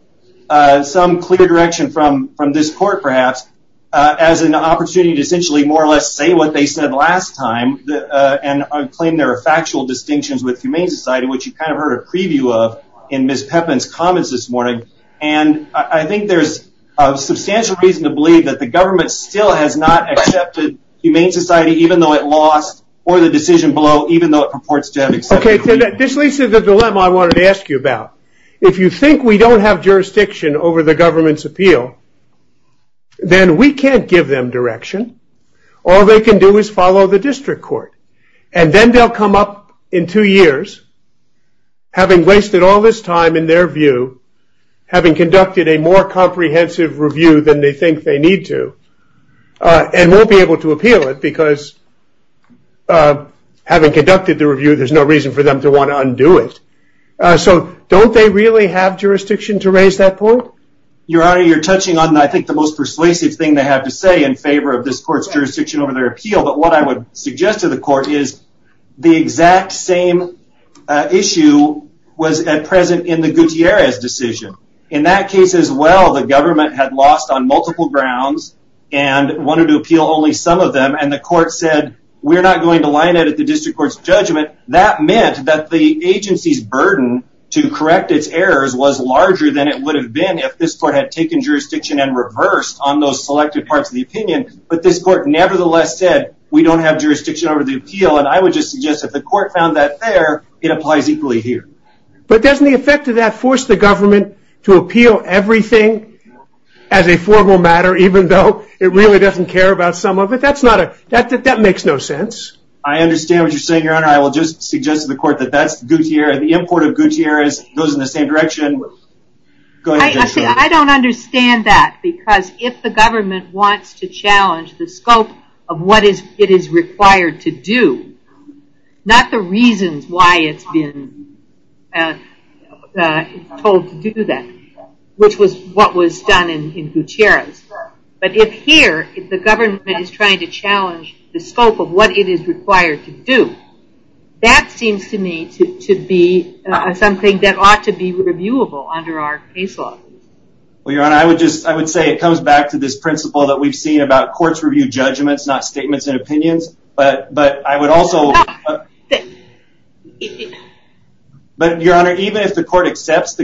some clear direction from this court, perhaps, as an opportunity to essentially more or less say what they said last time and claim there are factual distinctions with Humane Society, which you kind of heard a preview of in Ms. Pepin's comments this morning. And I think there's substantial reason to believe that the government still has not accepted Humane Society, even though it lost or the decision below, even though it purports to have accepted Humane Society. This leads to the dilemma I wanted to ask you about. If you think we don't have jurisdiction over the government's appeal, then we can't give them direction. All they can do is follow the district court. And then they'll come up in two years, having wasted all this time in their view, having conducted a more comprehensive review than they think they need to. And won't be able to appeal it, because having conducted the review, there's no reason for them to want to undo it. So don't they really have jurisdiction to raise that point? Your Honor, you're touching on, I think, the most persuasive thing they have to say in favor of this court's jurisdiction over their appeal. But what I would suggest to the court is the exact same issue was present in the Gutierrez decision. In that case as well, the government had lost on multiple grounds and wanted to appeal only some of them. And the court said, we're not going to line it at the district court's judgment. That meant that the agency's burden to correct its errors was larger than it would have been if this court had taken jurisdiction and reversed on those selected parts of the opinion. But this court nevertheless said, we don't have jurisdiction over the appeal. And I would just suggest if the court found that fair, it applies equally here. But doesn't the effect of that force the government to appeal everything as a formal matter, even though it really doesn't care about some of it? That makes no sense. I understand what you're saying, Your Honor. I will just suggest to the court that that's Gutierrez. The import of Gutierrez goes in the same direction. I don't understand that. Because if the government wants to challenge the scope of what it is required to do, not the reasons why it's been told to do that, which was what was done in Gutierrez. But if here, if the government is trying to challenge the scope of what it is required to do, that seems to me to be something that ought to be reviewable under our case law. Well, Your Honor, I would say it comes back to this principle that we've seen about courts review judgments, not statements and opinions. But I would also... But, Your Honor, even if the court accepts the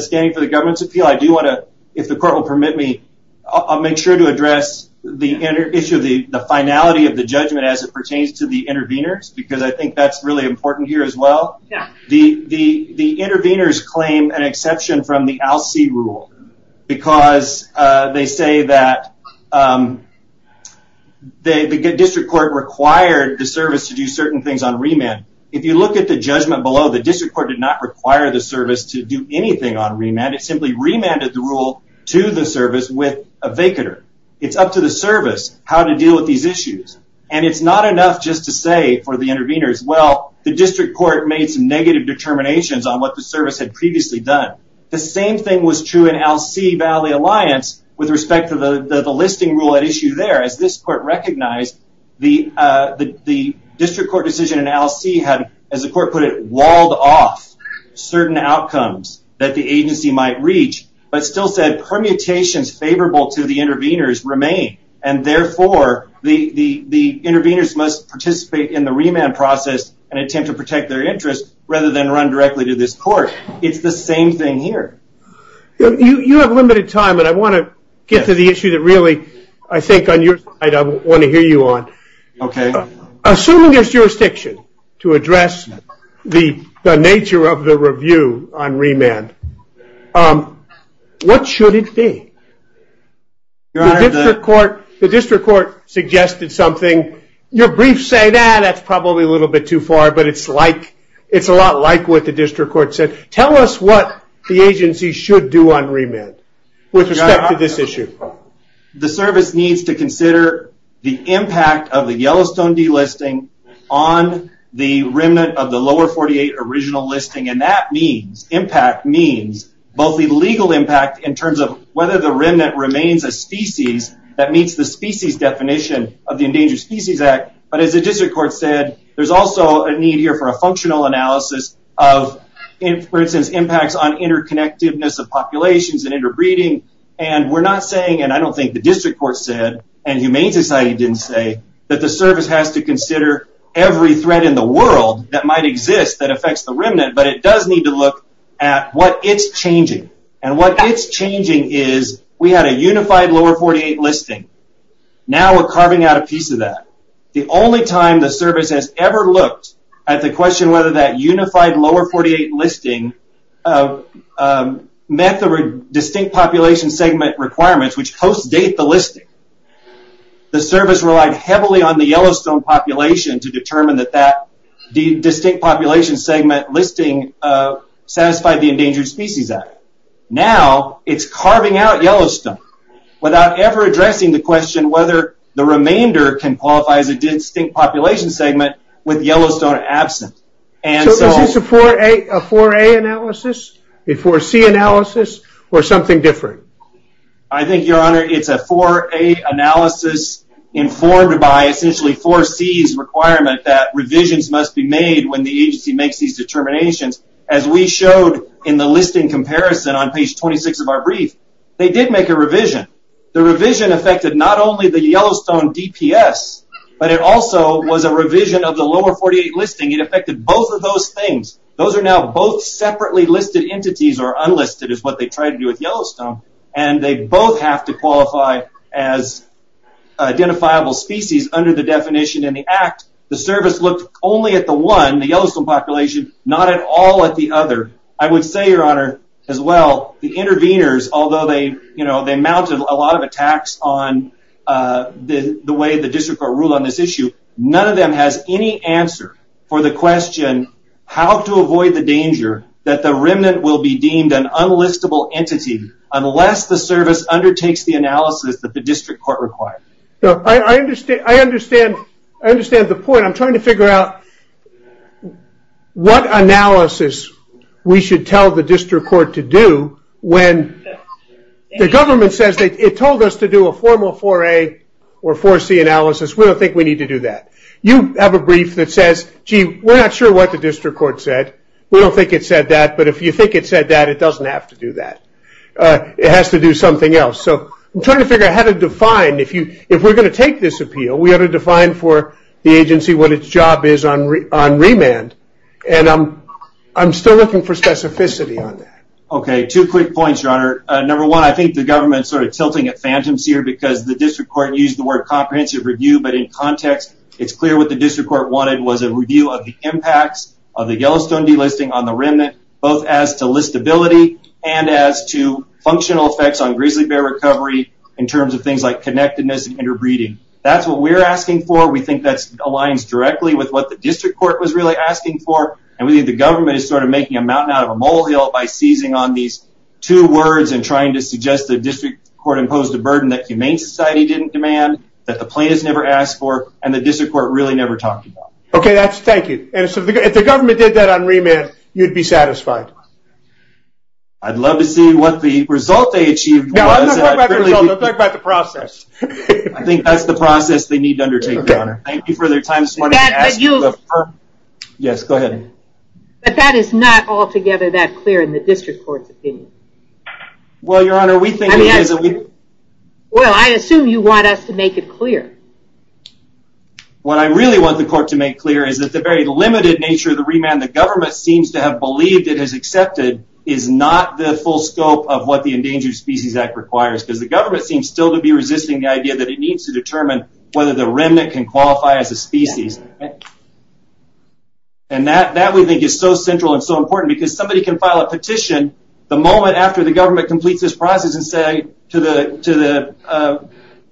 standing for the government's appeal, I do want to, if the court will permit me, I'll make sure to address the issue of the finality of the judgment as it pertains to the interveners, because I think that's really important here as well. Yeah. The interveners claim an exception from the ALCE rule because they say that the district court required the service to do certain things on remand. If you look at the judgment below, the district court did not require the service to do anything on remand. It simply remanded the rule to the service with a vacater. It's up to the service how to deal with these issues. And it's not enough just to say for the interveners, well, the district court made some negative determinations on what the service had previously done. The same thing was true in ALCE-Valley Alliance with respect to the listing rule at issue there. As this court recognized, the district court decision in ALCE had, as the court put it, walled off certain outcomes that the agency might reach, but still said permutations favorable to the interveners remain. And therefore, the interveners must participate in the remand process and attempt to protect their interests rather than run directly to this court. It's the same thing here. You have limited time, but I want to get to the issue that really I think on your side I want to hear you on. Okay. Assuming there's jurisdiction to address the nature of the review on remand, what should it be? The district court suggested something. Your briefs say, ah, that's probably a little bit too far, but it's a lot like what the district court said. Tell us what the agency should do on remand with respect to this issue. The service needs to consider the impact of the Yellowstone delisting on the remand of the lower 48 original listing, and that impact means both the legal impact in terms of whether the remand remains a species that meets the species definition of the Endangered Species Act, but as the district court said, there's also a need here for a functional analysis of, for instance, impacts on interconnectedness of populations and interbreeding, and we're not saying, and I don't think the district court said, and Humane Society didn't say, that the service has to consider every threat in the world that might exist that affects the remand, but it does need to look at what is changing, and what is changing is we had a unified lower 48 listing. Now we're carving out a piece of that. The only time the service has ever looked at the question whether that unified lower 48 listing met the distinct population segment requirements, which post-date the listing, the service relied heavily on the Yellowstone population to determine that that distinct population segment listing satisfied the Endangered Species Act. Now it's carving out Yellowstone without ever addressing the question whether the remainder can qualify as a distinct population segment with Yellowstone absent. So is this a 4A analysis, a 4C analysis, or something different? I think, Your Honor, it's a 4A analysis informed by essentially 4C's requirement that revisions must be made when the agency makes these determinations. As we showed in the listing comparison on page 26 of our brief, they did make a revision. The revision affected not only the Yellowstone DPS, but it also was a revision of the lower 48 listing. It affected both of those things. Those are now both separately listed entities, or unlisted is what they tried to do with Yellowstone, and they both have to qualify as identifiable species under the definition in the act. The service looked only at the one, the Yellowstone population, not at all at the other. I would say, Your Honor, as well, the interveners, although they mounted a lot of attacks on the way the district court ruled on this issue, none of them has any answer for the question how to avoid the danger that the remnant will be deemed an unlistable entity unless the service undertakes the analysis that the district court requires. I understand the point. I'm trying to figure out what analysis we should tell the district court to do when the government says it told us to do a formal 4A or 4C analysis. We don't think we need to do that. You have a brief that says, gee, we're not sure what the district court said. We don't think it said that, but if you think it said that, it doesn't have to do that. It has to do something else. So I'm trying to figure out how to define. If we're going to take this appeal, we ought to define for the agency what its job is on remand, and I'm still looking for specificity on that. Okay. Two quick points, Your Honor. Number one, I think the government started tilting its phantoms here because the district court used the word comprehensive review, but in context, it's clear what the district court wanted was a review of the impacts of the Yellowstone delisting on the remnant, both as to listability and as to functional effects on grizzly bear recovery in terms of things like connectedness and interbreeding. That's what we're asking for. We think that aligns directly with what the district court was really asking for, and we think the government is sort of making a mountain out of a mole hill by seizing on these two words and trying to suggest the district court imposed a burden that humane society didn't demand, that the plaintiffs never asked for, and the district court really never talked about. Okay. Thank you. If the government did that on remand, you'd be satisfied. I'd love to see what the result they achieved. No, I'm not talking about the result. I'm talking about the process. I think that's the process they need to undertake. Okay. Thank you for your time this morning. Yes, go ahead. But that is not altogether that clear in the district court's opinion. Well, Your Honor, we think it is. Well, I assume you want us to make it clear. What I really want the court to make clear is that the very limited nature of the remand the government seems to have believed it has accepted is not the full scope of what the Endangered Species Act requires, because the government seems still to be resisting the idea that it needs to qualify as a species. And that we think is so central and so important, because somebody can file a petition the moment after the government completes this process and say to the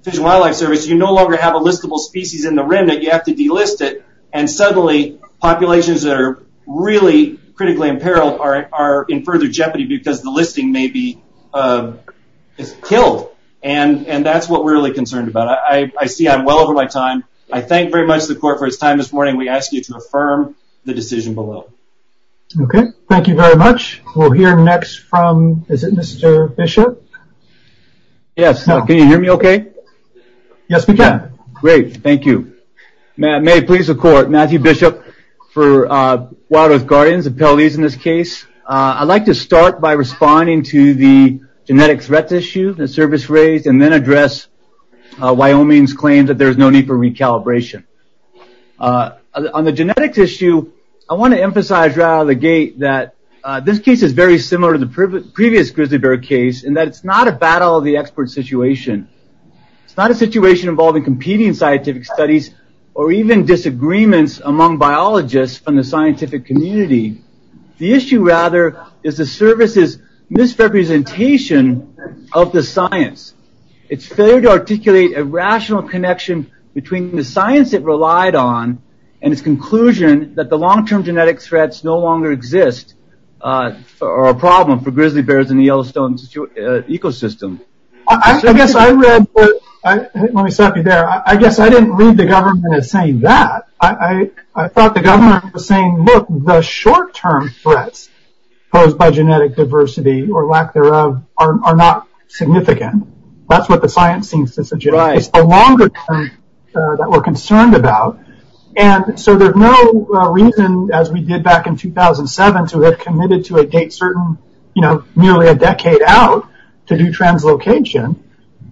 Fish and Wildlife Service, you no longer have a listable species in the rem that you have to delist it, and suddenly populations that are really critically in peril are in further jeopardy because the listing may be killed. And that's what we're really concerned about. I see I'm well over my time. I thank very much to the court for his time this morning. We ask you to affirm the decision below. Okay. Thank you very much. We'll hear next from, is it Mr. Bishop? Yes. Can you hear me okay? Yes, we can. Great. Thank you. May it please the court, Matthew Bishop for Wildlife Guardians, appellees in this case. I'd like to start by responding to the genetic threat issue, the service rate, and then address Wyoming's claim that there's no need for recalibration. On the genetic issue, I want to emphasize right out of the gate that this case is very similar to the previous Grizzly Bear case in that it's not a battle of the expert situation. It's not a situation involving competing scientific studies or even disagreements among biologists from the scientific community. The issue rather is the service's misrepresentation of the science. It's failure to articulate a rational connection between the science it relied on and the conclusion that the long-term genetic threats no longer exist are a problem for grizzly bears in the Yellowstone ecosystem. I guess I read, let me stop you there. I guess I didn't read the government as saying that. I thought the government was saying, look, the short-term threats posed by genetic diversity or lack thereof are not significant. That's what the science seems to suggest. It's the longer term that we're concerned about. And so there's no reason, as we did back in 2007, to have committed to a date certain, you know, nearly a decade out to do translocation.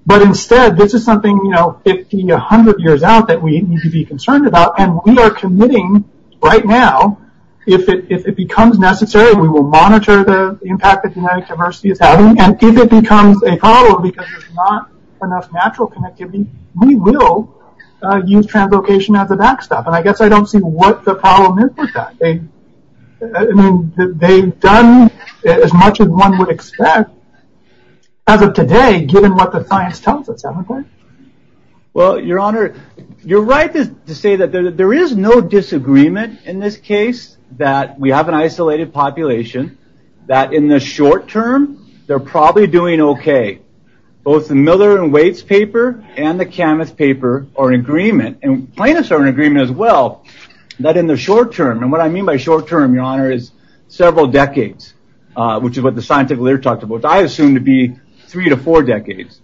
But instead, this is something, you know, 50, 100 years out that we need to be concerned about. And we are committing right now, if it becomes necessary, we will monitor the impact of genetic diversity. And if it becomes a problem because there's not enough natural connectivity, we will use translocation as a backstop. And I guess I don't see what the problem is with that. I mean, they've done as much as one would expect as of today, given what the science tells us. Well, Your Honor, you're right to say that there is no disagreement in this case that we have an isolated population, that in the short term, they're probably doing okay. Both the Miller and Waits paper and the Camas paper are in agreement, and plaintiffs are in agreement as well, that in the short term, and what I mean by short term, Your Honor, is several decades, which is what the scientific literature talks about. Which I assume to be three to four decades,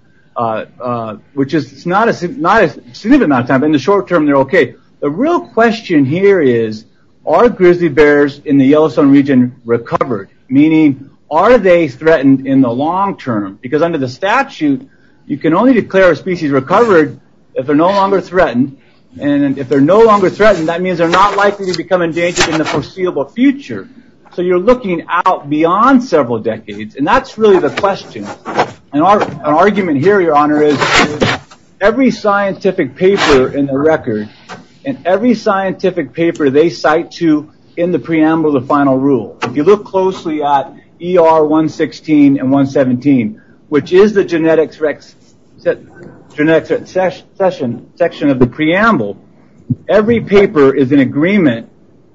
which is not as soon as in the short term, they're okay. The real question here is, are grizzly bears in the Yellowstone region recovered? Meaning, are they threatened in the long term? Because under the statute, you can only declare a species recovered if they're no longer threatened. And if they're no longer threatened, that means they're not likely to become endangered in the foreseeable future. So you're looking out beyond several decades. And that's really the question. And our argument here, Your Honor, is every scientific paper in the record, and every scientific paper they cite to in the preamble of the final rule, if you look closely at ER 116 and 117, which is the genetics section of the preamble, every paper is in agreement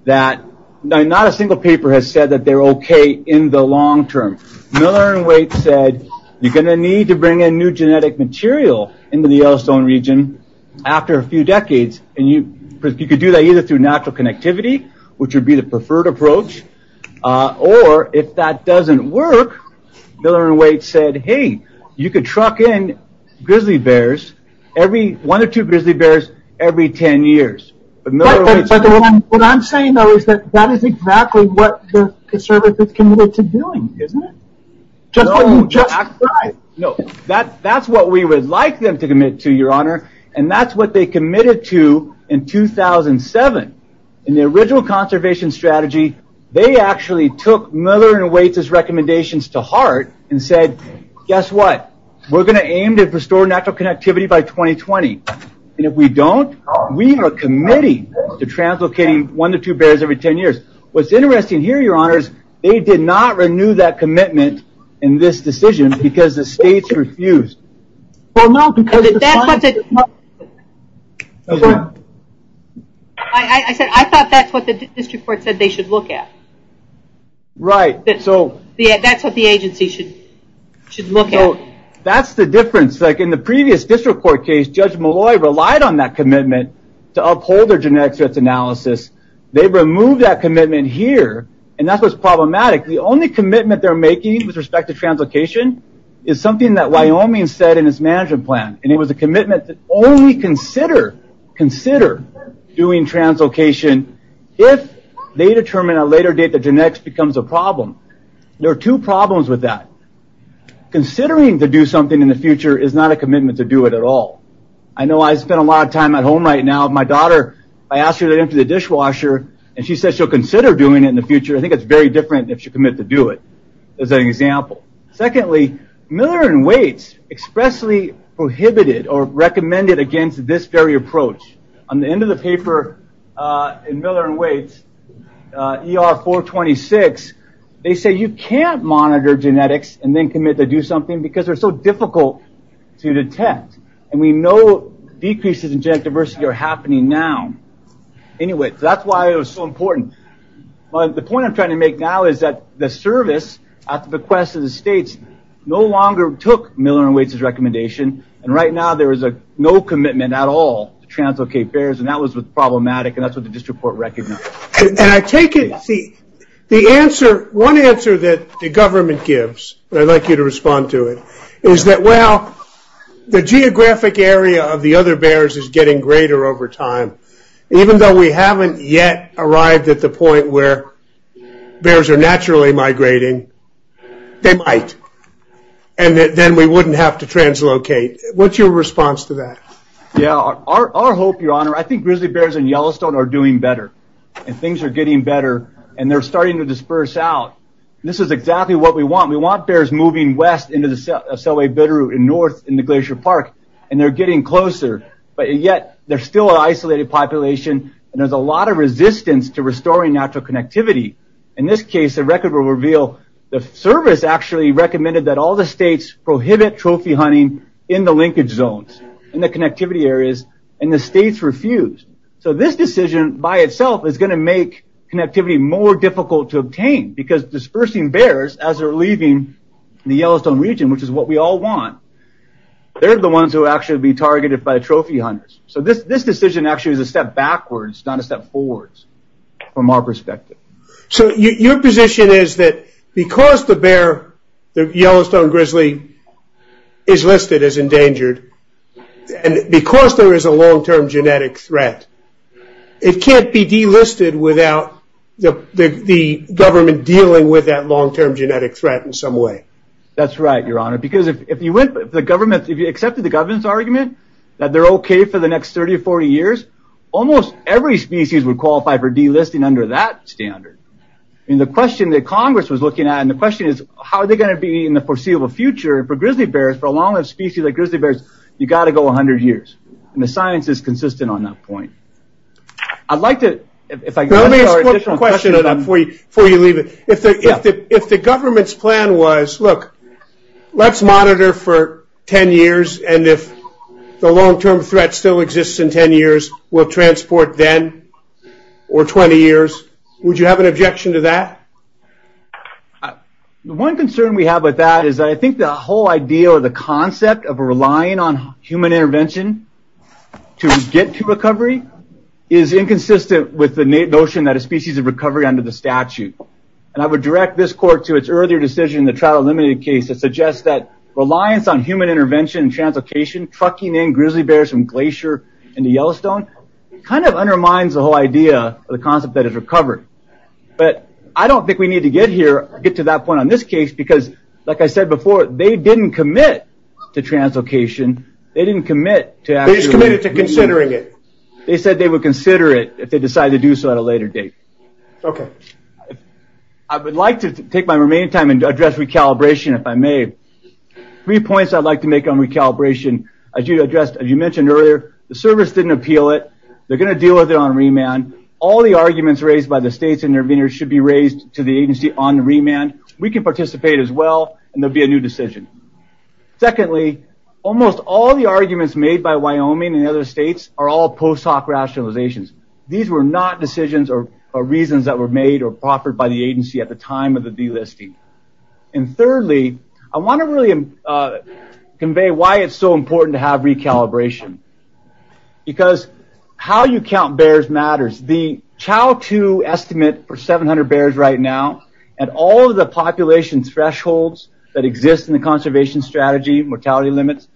that not a single paper has said that they're okay in the long term. Miller and Waite said you're going to need to bring in new genetic material into the Yellowstone region after a few decades. And you could do that either through natural connectivity, which would be the preferred approach, or if that doesn't work, Miller and Waite said, hey, you could truck in grizzly bears, one or two grizzly bears every 10 years. What I'm saying, though, is that that is exactly what the service is committed to doing, isn't it? No, that's what we would like them to commit to, Your Honor. And that's what they committed to in 2007. In the original conservation strategy, they actually took Miller and Waite's recommendations to heart and said, guess what? We're going to aim to restore natural connectivity by 2020. And if we don't, we are committing to translocating one to two bears every 10 years. What's interesting here, Your Honor, is they did not renew that commitment in this decision because the states refused. I thought that's what the district court said they should look at. Right. That's what the agency should look at. That's the difference. It's like in the previous district court case, Judge Malloy relied on that commitment to uphold their genetic analysis. They removed that commitment here. And that's what's problematic. The only commitment they're making with respect to translocation is something that Wyoming said in its management plan. And it was a commitment to only consider doing translocation if they determine at a later date that genetics becomes a problem. There are two problems with that. Considering to do something in the future is not a commitment to do it at all. I know I spend a lot of time at home right now. My daughter, I asked her to enter the dishwasher and she said she'll consider doing it in the future. I think it's very different if you commit to do it as an example. Secondly, Miller and Waits expressly prohibited or recommended against this very approach. On the end of the paper in Miller and Waits, ER 426, they say you can't monitor genetics and then commit to do something because they're so difficult to detect. And we know decreases in genetic diversity are happening now. Anyway, that's why it was so important. But the point I'm trying to make now is that the service at the request of the states no longer took Miller and Waits' recommendation. And right now there is no commitment at all to translocate bears. And that was problematic. And that's what the district court recommended. And I take it the answer, one answer that the government gives, and I'd like you to respond to it, is that, well, the geographic area of the other bears is getting greater over time. Even though we haven't yet arrived at the point where bears are naturally migrating, they might. And then we wouldn't have to translocate. What's your response to that? Yeah. Our hope, Your Honor, I think grizzly bears in Yellowstone are doing better. And things are getting better. And they're starting to disperse out. This is exactly what we want. We want bears moving west into the Selway-Bitterroot and north in the Glacier Park. And they're getting closer. But yet there's still an isolated population. And there's a lot of resistance to restoring natural connectivity. In this case, the record will reveal the service actually recommended that all the states prohibit trophy hunting in the linkage zones, in the connectivity areas. And the states refused. So this decision by itself is going to make connectivity more difficult to obtain. Because dispersing bears as they're leaving the Yellowstone region, which is what we all want, they're the ones who will actually be targeted by trophy hunters. So this decision actually is a step backwards, not a step forwards from our perspective. So your position is that because the bear, the Yellowstone grizzly, is listed as endangered, and because there is a long-term genetic threat, it can't be delisted without the government dealing with that long-term genetic threat in some way. That's right, Your Honor. Because if you went, if the government, if you accepted the government's argument that they're okay for the next 30 or 40 years, almost every species would qualify for delisting under that standard. And the question that Congress was looking at, and the question is, how are they going to be in the foreseeable future for grizzly bears, but a lot of species, like grizzly bears, you've got to go 100 years. And the science is consistent on that point. I'd like to, if I could, let me ask one question before you leave it. If the government's plan was, look, let's monitor for 10 years, and if the long-term threat still exists in 10 years, we'll transport then, or 20 years, would you have an objection to that? One concern we have with that is that I think the whole idea, or the concept of relying on human intervention to get to recovery is inconsistent with the notion that a species of recovery under the statute. And I would direct this court to its earlier decision in the trial eliminated case that suggests that reliance on human intervention and transportation, trucking in grizzly bears from Glacier into Yellowstone, kind of undermines the whole idea of the concept that it recovered. But I don't think we need to get here, get to that point on this case, because like I said before, they didn't commit to translocation. They didn't commit to actually. They just committed to considering it. They said they would consider it if they decided to do so at a later date. Okay. I would like to take my remaining time and address recalibration, if I may. Three points I'd like to make on recalibration. As you addressed, as you mentioned earlier, the service didn't appeal it. They're going to deal with it on remand. All the arguments raised by the states interveners should be raised to the agency on remand. We can participate as well. And there'll be a new decision. Secondly, almost all the arguments made by Wyoming and other states are all post hoc rationalizations. These were not decisions or reasons that were made or proffered by the agency at the time of the delisting. And thirdly, I want to really convey why it's so important to have recalibration. Because how you count bears matters. The CHOW-2 estimate for 700 bears right now and all of the population thresholds that exist in the conservation strategy, mortality limits,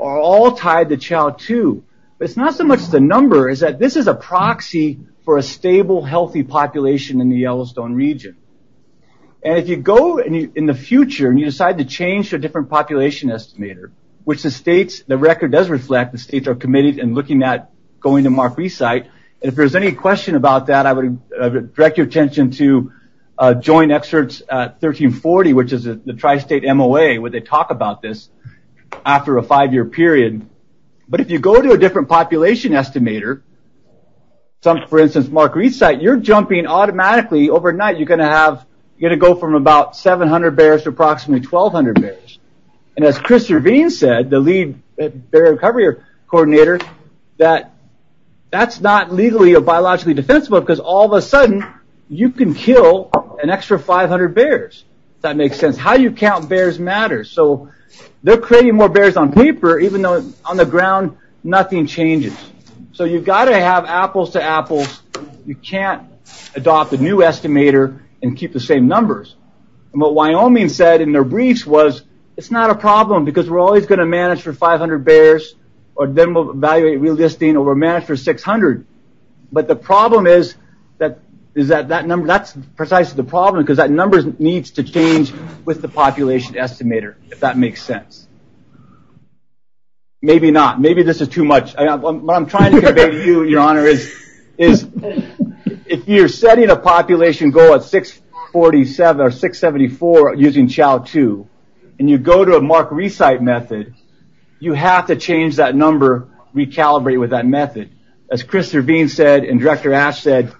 are all tied to CHOW-2. It's not so much the number, it's that this is a proxy for a stable, healthy population in the Yellowstone region. And if you go in the future and you decide to change to a different population estimator, which the states, the record does reflect the states are committed and looking at going to a different population estimator, there's a question about that. I would direct your attention to joint experts at 1340, which is the tri-state MOA, where they talk about this after a five-year period. But if you go to a different population estimator, for instance, Mark Reesite, you're jumping automatically overnight. You're going to have, you're going to go from about 700 bears to approximately 1,200 bears. And as Chris Yervine said, the lead bear recovery coordinator, that that's not legally or biologically defensible, because all of a sudden you can kill an extra 500 bears. If that makes sense. How you count bears matters. So they're creating more bears on weeper, even though on the ground, nothing changes. So you've got to have apples to apples. You can't adopt a new estimator and keep the same numbers. And what Wyoming said in their breach was, it's not a problem, because we're always going to manage for 500 bears, or then we'll evaluate re-listing, or we'll manage for 600. But the problem is that that number, that's precisely the problem, because that number needs to change with the population estimator, if that makes sense. Maybe not. Maybe this is too much. What I'm trying to convey to you, Your Honor, is if you're setting a population goal at 647 or 674, using CHOW-2, and you go to a mark-re-site method, you have to change that number, recalibrate with that method. As Chris Servine said, and Director Ash said,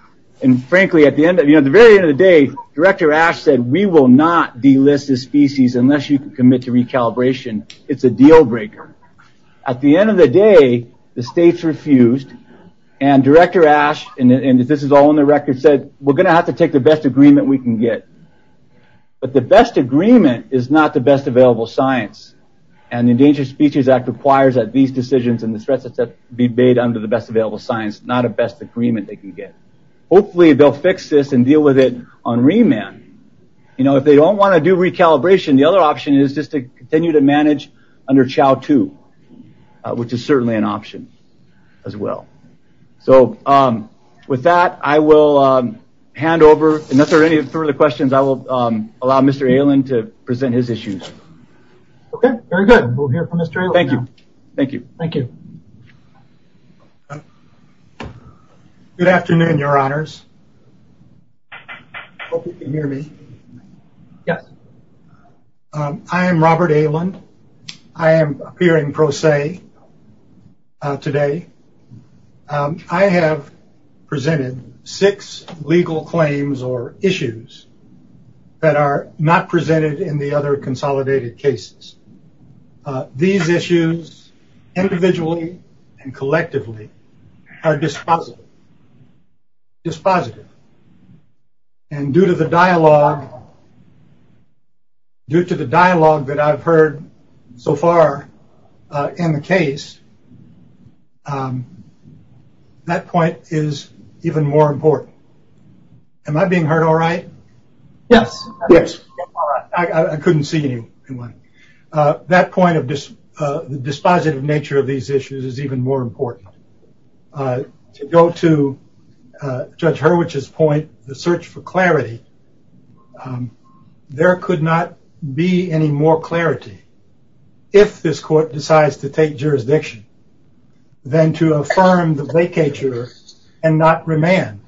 and frankly, at the very end of the day, Director Ash said, we will not delist the species unless you commit to recalibration. It's a deal breaker. At the end of the day, the states refused, and Director Ash, and this is all on the record, said, we're going to have to take the best agreement we can get. But the best agreement is not the best available science, and the Endangered Species Act requires that these decisions and the stresses that be made under the best available science not a best agreement they can get. Hopefully they'll fix this and deal with it on remand. If they don't want to do recalibration, the other option is just to continue to manage under CHOW-2, which is certainly an option as well. So with that, I will hand over, and if there are any further questions, I will allow Mr. Ayland to present his issues. Okay, very good. We'll hear from Mr. Ayland. Thank you. Thank you. Good afternoon, Your Honors. I hope you can hear me. I am Robert Ayland. I am appearing pro se today. I have presented six legal claims or issues that are not presented in the other consolidated cases. These issues individually and collectively are dispositive. Dispositive. And due to the dialogue that I've heard so far in the case, that point is even more important. Am I being heard all right? Yes. Yes. I couldn't see you. That point of dispositive nature of these issues is even more important. To go to Judge Hurwicz's point, the search for clarity, there could not be any more clarity if this court decides to take jurisdiction than to affirm the vacatur and not remand.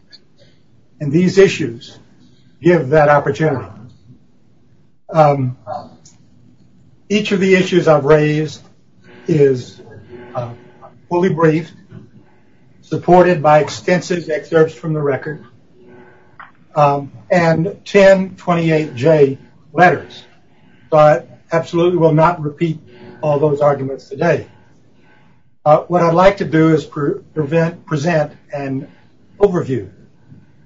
And these issues give that opportunity. Each of the issues I've raised is fully brief, supported by extensive excerpts from the record, and 1028J letters. And I will not repeat all those arguments today. What I'd like to do is present an overview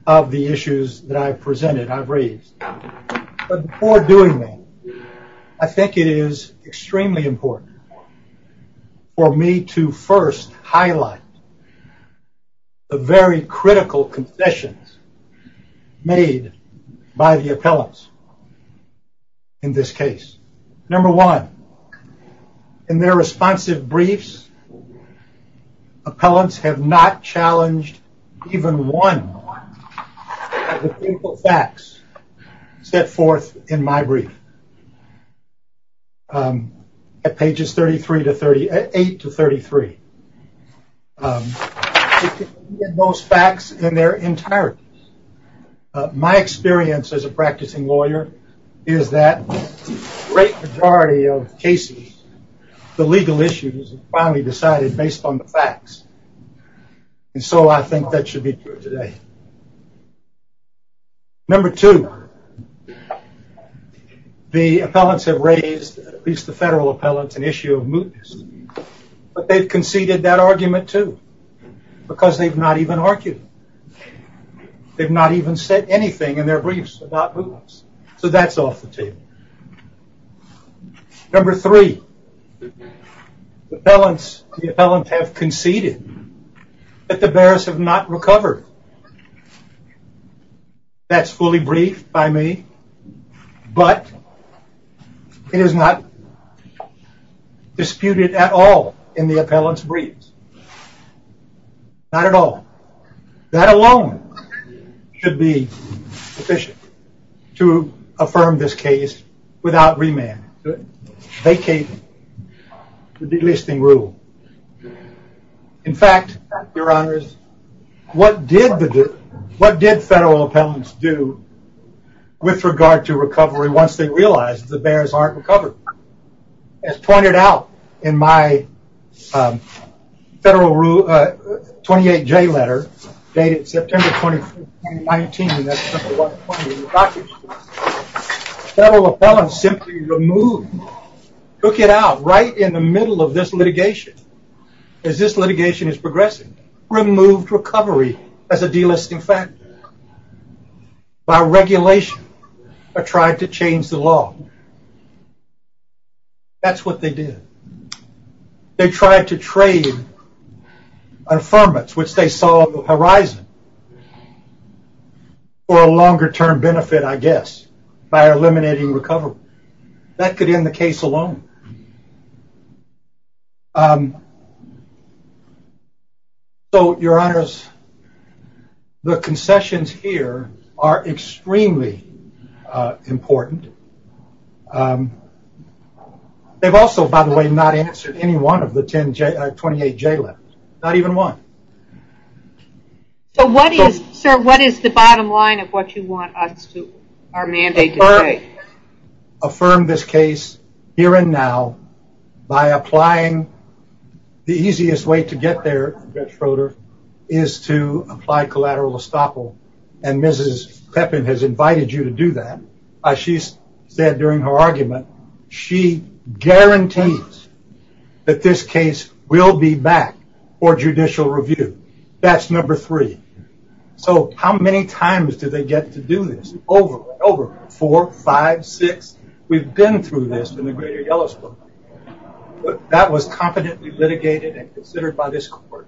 of the issues that I've presented, I've raised. Before doing that, I think it is extremely important for me to first highlight the very critical confessions made by the appellants in this case. Number one, in their responsive briefs, appellants have not challenged even one of the critical facts set forth in my brief. At pages 38 to 33, they can see most facts in their entirety. My experience as a practicing lawyer is that the great majority of cases, the legal issues are finally decided based on the facts. And so I think that should be clear today. Number two, the appellants have raised, at least the federal appellants, an issue of mootness. But they've conceded that argument too, because they've not even argued. They've not even said anything in their briefs about mootness. So that's off the table. Number three, the appellants have conceded that the bearers have not recovered. That's fully briefed by me. But it is not disputed at all in the appellants' briefs. Not at all. That alone should be sufficient to affirm this case without remand, vacate the delisting rule. In fact, Your Honor, what did federal appellants do with regard to recovery once they realized the bearers aren't recovered? As pointed out in my 28J letter dated September 20, 2019, federal appellants simply removed, took it out right in the middle of this litigation, as this litigation is progressing, removed recovery as a delisting factor. By regulation, they tried to change the law. That's what they did. They tried to trade affirmance, which they saw on the horizon. For a longer-term benefit, I guess, by eliminating recovery. That could end the case alone. So, Your Honors, the concessions here are extremely important. They've also, by the way, not answered any one of the 28J letters. Not even one. So what is, sir, what is the bottom line of what you want our mandate to say? Affirm this case here and now by applying the easiest way to get there, Judge Froder, is to apply collateral estoppel. And Mrs. Pepin has invited you to do that. As she said during her argument, she guarantees that this case will be back for judicial review. That's number three. So how many times do they get to do this? Over, over. Four, five, six. We've been through this in the greater Yellowstone. But that was competently litigated and considered by this court.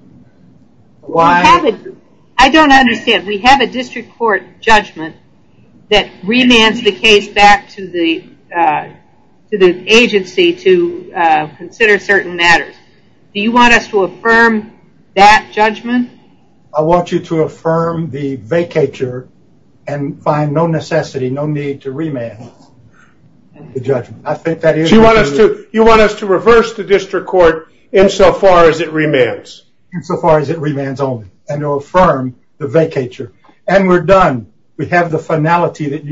I don't understand. We have a district court judgment that remands the case back to the agency to consider certain matters. Do you want us to affirm that judgment? I want you to affirm the vacatur and find no necessity, no need to remand the judgment. You want us to reverse the district court insofar as it remands? Insofar as it remands only. And to affirm the vacatur. And we're done. We have the finality that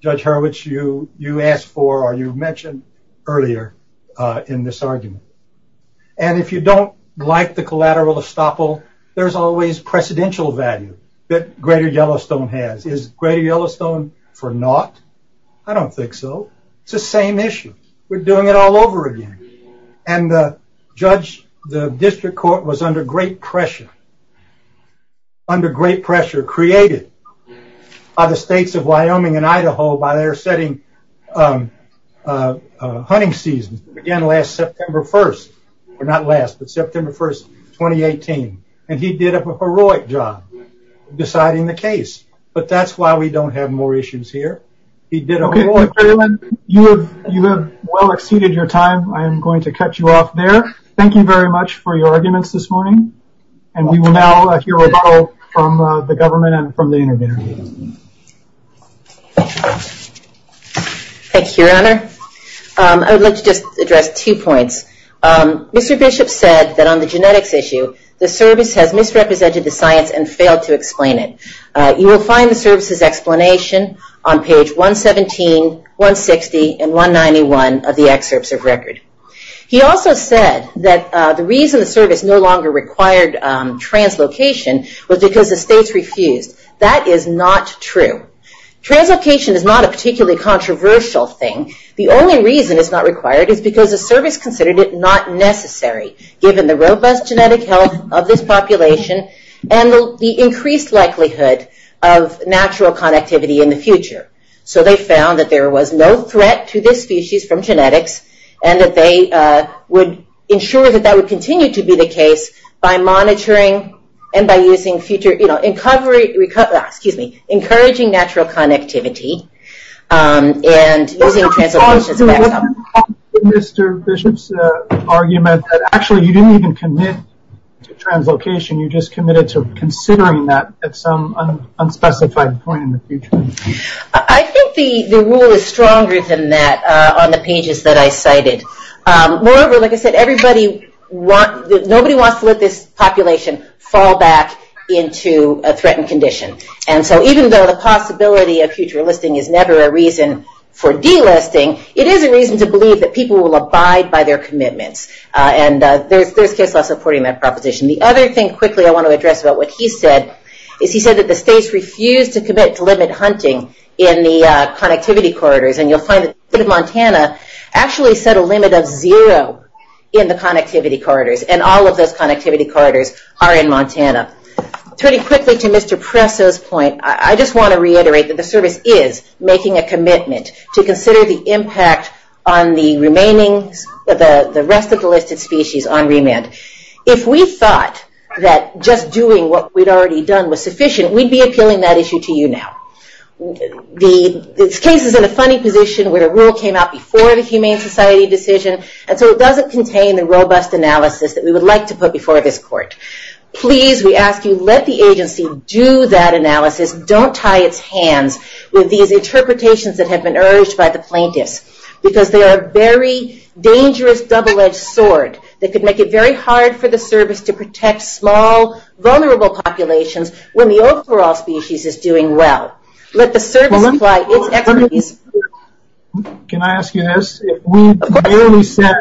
Judge Hurwitz, you asked for or you mentioned earlier in this argument. And if you don't like the collateral estoppel, there's always precedential value that greater Yellowstone has. Is greater Yellowstone for naught? I don't think so. It's the same issue. We're doing it all over again. Judge, the district court was under great pressure. Under great pressure created by the states of Wyoming and Idaho by their setting hunting season. Again, last September 1st. Or not last, but September 1st, 2018. And he did a heroic job deciding the case. But that's why we don't have more issues here. He did a heroic job. You have well exceeded your time. I am going to cut you off there. Thank you very much for your arguments this morning. And we will now hear a rebuttal from the government and from the interview. Thank you, Your Honor. I would like to just address two points. Mr. Bishop said that on the genetics issue, the service has misrepresented the science and failed to explain it. You will find the service's explanation on page 117, 160, and 191 of the excerpts of record. He also said that the reason the service no longer required translocation was because the states refused. That is not true. Translocation is not a particularly controversial thing. The only reason it's not required is because the service considered it not necessary given the robust genetic health of this population and the increased likelihood of natural connectivity in the future. So they found that there was no threat to this species from genetics and that they would ensure that that would continue to be the case by monitoring and by using future, you know, encouraging natural connectivity and using translocation. Mr. Bishop's argument that actually you didn't even commit to translocation. You just committed to considering that at some unspecified point in the future. I think the rule is stronger than that on the pages that I cited. Moreover, like I said, nobody wants to let this population fall back into a threatened condition. And so even though the possibility of future listing is never a reason for delisting, it is a reason to believe that people will abide by their commitments, and they're still supporting that proposition. The other thing quickly I want to address about what he said is he said that the state refused to commit to limited hunting in the connectivity corridors. And you'll find that the state of Montana actually set a limit of zero in the connectivity corridors, and all of those connectivity corridors are in Montana. Turning quickly to Mr. Presso's point, I just want to reiterate that the service is making a commitment to consider the impact on the remaining, the rest of the listed species on remand. If we thought that just doing what we'd already done was sufficient, we'd be appealing that issue to you now. This case is in a funny position where a rule came out before the Humane Society decision, and so it doesn't contain the robust analysis that we would like to put before this court. Please, we ask you, let the agency do that analysis. Don't tie its hands with these interpretations that have been urged by the plaintiffs, because they are a very dangerous double-edged sword. They could make it very hard for the service to protect small, vulnerable populations when the overall species is doing well. Let the service... Can I ask you this? If we merely said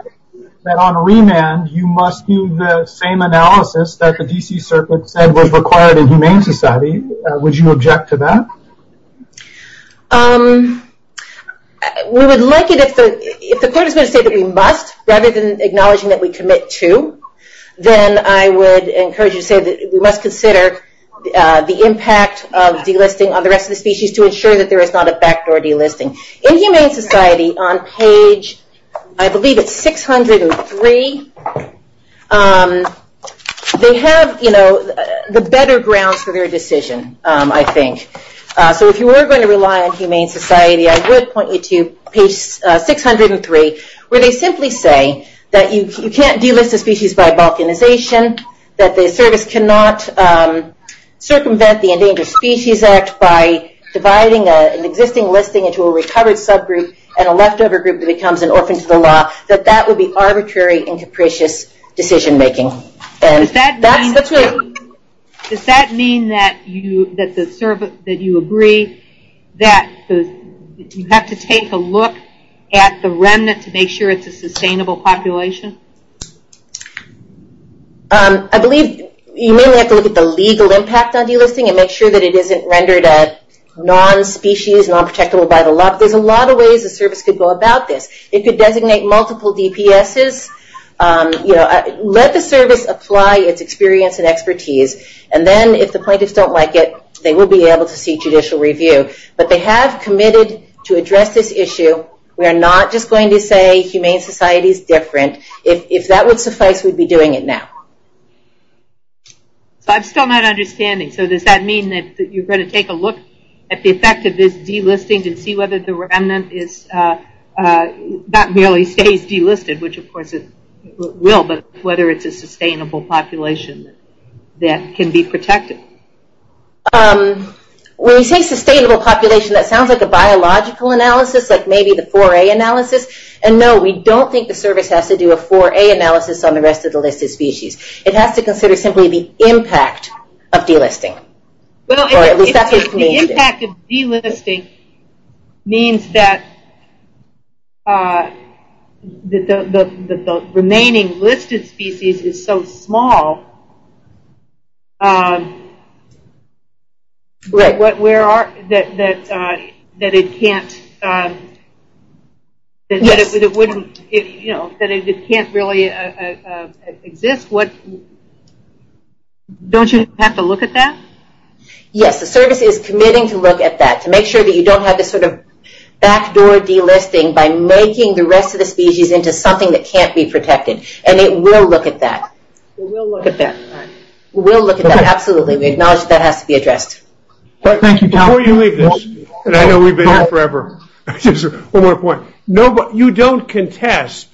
that on remand you must do the same analysis that the D.C. Circuit said was required in Humane Society, would you object to that? We would like it if the participants say that we must, rather than acknowledging that we commit to, then I would encourage you to say that we must consider the impact of delisting on the rest of the species to ensure that there is not a fact for delisting. In Humane Society, on page, I believe it's 603, they have the better grounds for their decision, I think. So if you were going to rely on Humane Society, I would point you to page 603, where they simply say that you can't delist the species by vulcanization, that the service cannot circumvent the Endangered Species Act by dividing an existing listing into a recovered subgroup and a leftover group that becomes an orphan to the law, that that would be arbitrary and capricious decision-making. Does that mean that you agree that you have to take a look at the remnant to make sure it's a sustainable population? I believe you may have to look at the legal impact of delisting and make sure that it isn't rendered as non-species, non-protectable by the law. There's a lot of ways a service could go about this. It could designate multiple DPSs. Let the service apply its experience and expertise, and then if the plaintiffs don't like it, they will be able to see judicial review. But they have committed to address this issue. We are not just going to say Humane Society is different. If that was the case, we'd be doing it now. I've still not understanding. So does that mean that you're going to take a look at the effect of this delisting and see whether the remnant not merely stays delisted, which of course it will, but whether it's a sustainable population that can be protected? When you say sustainable population, that sounds like a biological analysis, like maybe the 4A analysis. And no, we don't think the service has to do a 4A analysis on the rest of the listed species. It has to consider simply the impact of delisting. The impact of delisting means that the remaining listed species is so small that it can't really exist. Don't you have to look at that? Yes. The service is committing to look at that to make sure that you don't have this sort of backdoor delisting by making the rest of the species into something that can't be protected. And it will look at that. It will look at that. It will look at that. Absolutely. We acknowledge that has to be addressed. Thank you. Before you leave this, and I know we've been here forever, one more point. You don't contest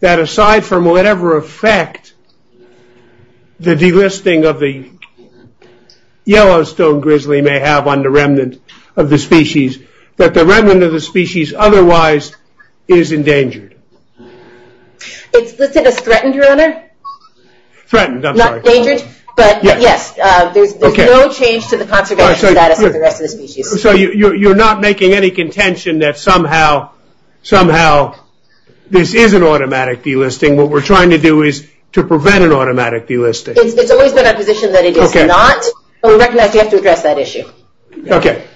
that aside from whatever effect the delisting of the Yellowstone grizzly may have on the remnant of the species, that the remnant of the species otherwise is endangered. Is this a threatened owner? Threatened, that's right. Not endangered, but yes, there's no change to the contradiction of that for the rest of the species. So you're not making any contention that somehow this is an automatic delisting. What we're trying to do is to prevent an automatic delisting. It's always been our position that it is not. So we recognize we have to address that issue. Okay.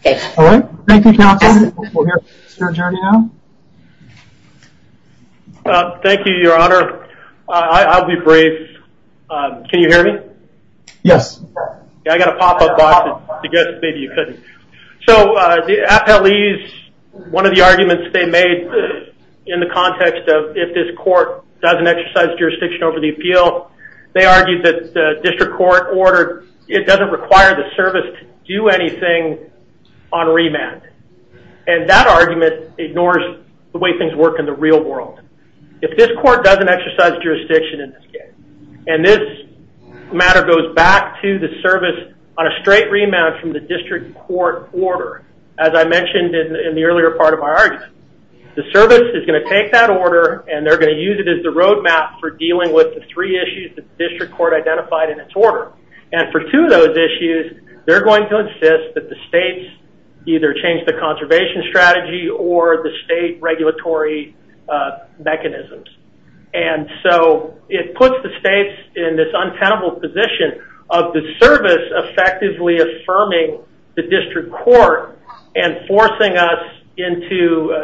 Okay. All right. Thank you, Captain. We'll hear from Surgeon now. Thank you, Your Honor. I'll be brief. Can you hear me? Yes. I got a pop-up box. I guess maybe you couldn't. So the FLEs, one of the arguments they made in the context of if this court doesn't exercise jurisdiction over the appeal, they argued that the district court ordered it doesn't require the service to do anything on remand. And that argument ignores the way things work in the real world. If this court doesn't exercise jurisdiction in this case, and this matter goes back to the service on a straight remand from the district court order, as I mentioned in the earlier part of my argument, the service is going to take that order and they're going to use it as the roadmap for dealing with the three issues the district court identified in its order. And for two of those issues, they're going to insist that the states either change the conservation strategy or the state regulatory mechanisms. And so it puts the states in this untenable position of the service effectively affirming the district court and forcing us into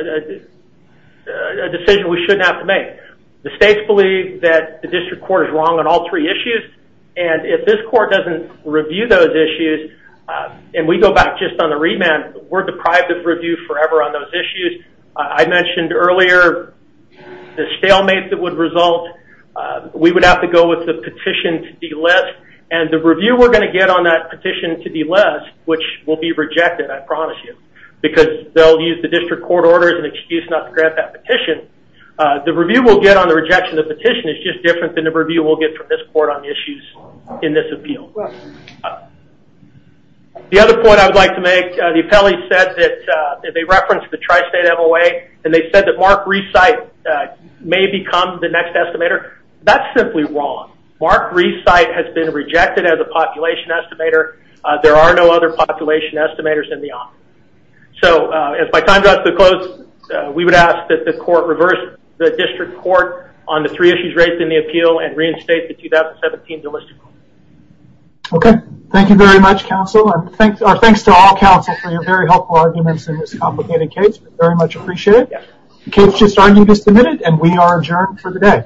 a decision we shouldn't have to make. The states believe that the district court is wrong on all three issues, and if this court doesn't review those issues, and we go back just on the remand, we're deprived of review forever on those issues. I mentioned earlier the stalemate that would result. We would have to go with the petition to delist, and the review we're going to get on that petition to delist, which will be rejected, I promise you, because they'll use the district court orders and excuse not to grant that petition. The review we'll get on the rejection of the petition is just different than the review we'll get from this court on the issues in this appeal. The other point I'd like to make, the appellee said that they referenced the tri-state MOA, and they said that Mark Reissite may become the next estimator. That's simply wrong. Mark Reissite has been rejected as a population estimator. There are no other population estimators in the office. So if my time draws to a close, we would ask that the court reverse the district court on the three issues raised in the appeal and reinstate the 2017 delisting order. Okay. Thank you very much, counsel. Thanks to all counsel for your very helpful arguments in this complicated case. We very much appreciate it. The case just argued is submitted, and we are adjourned for the day.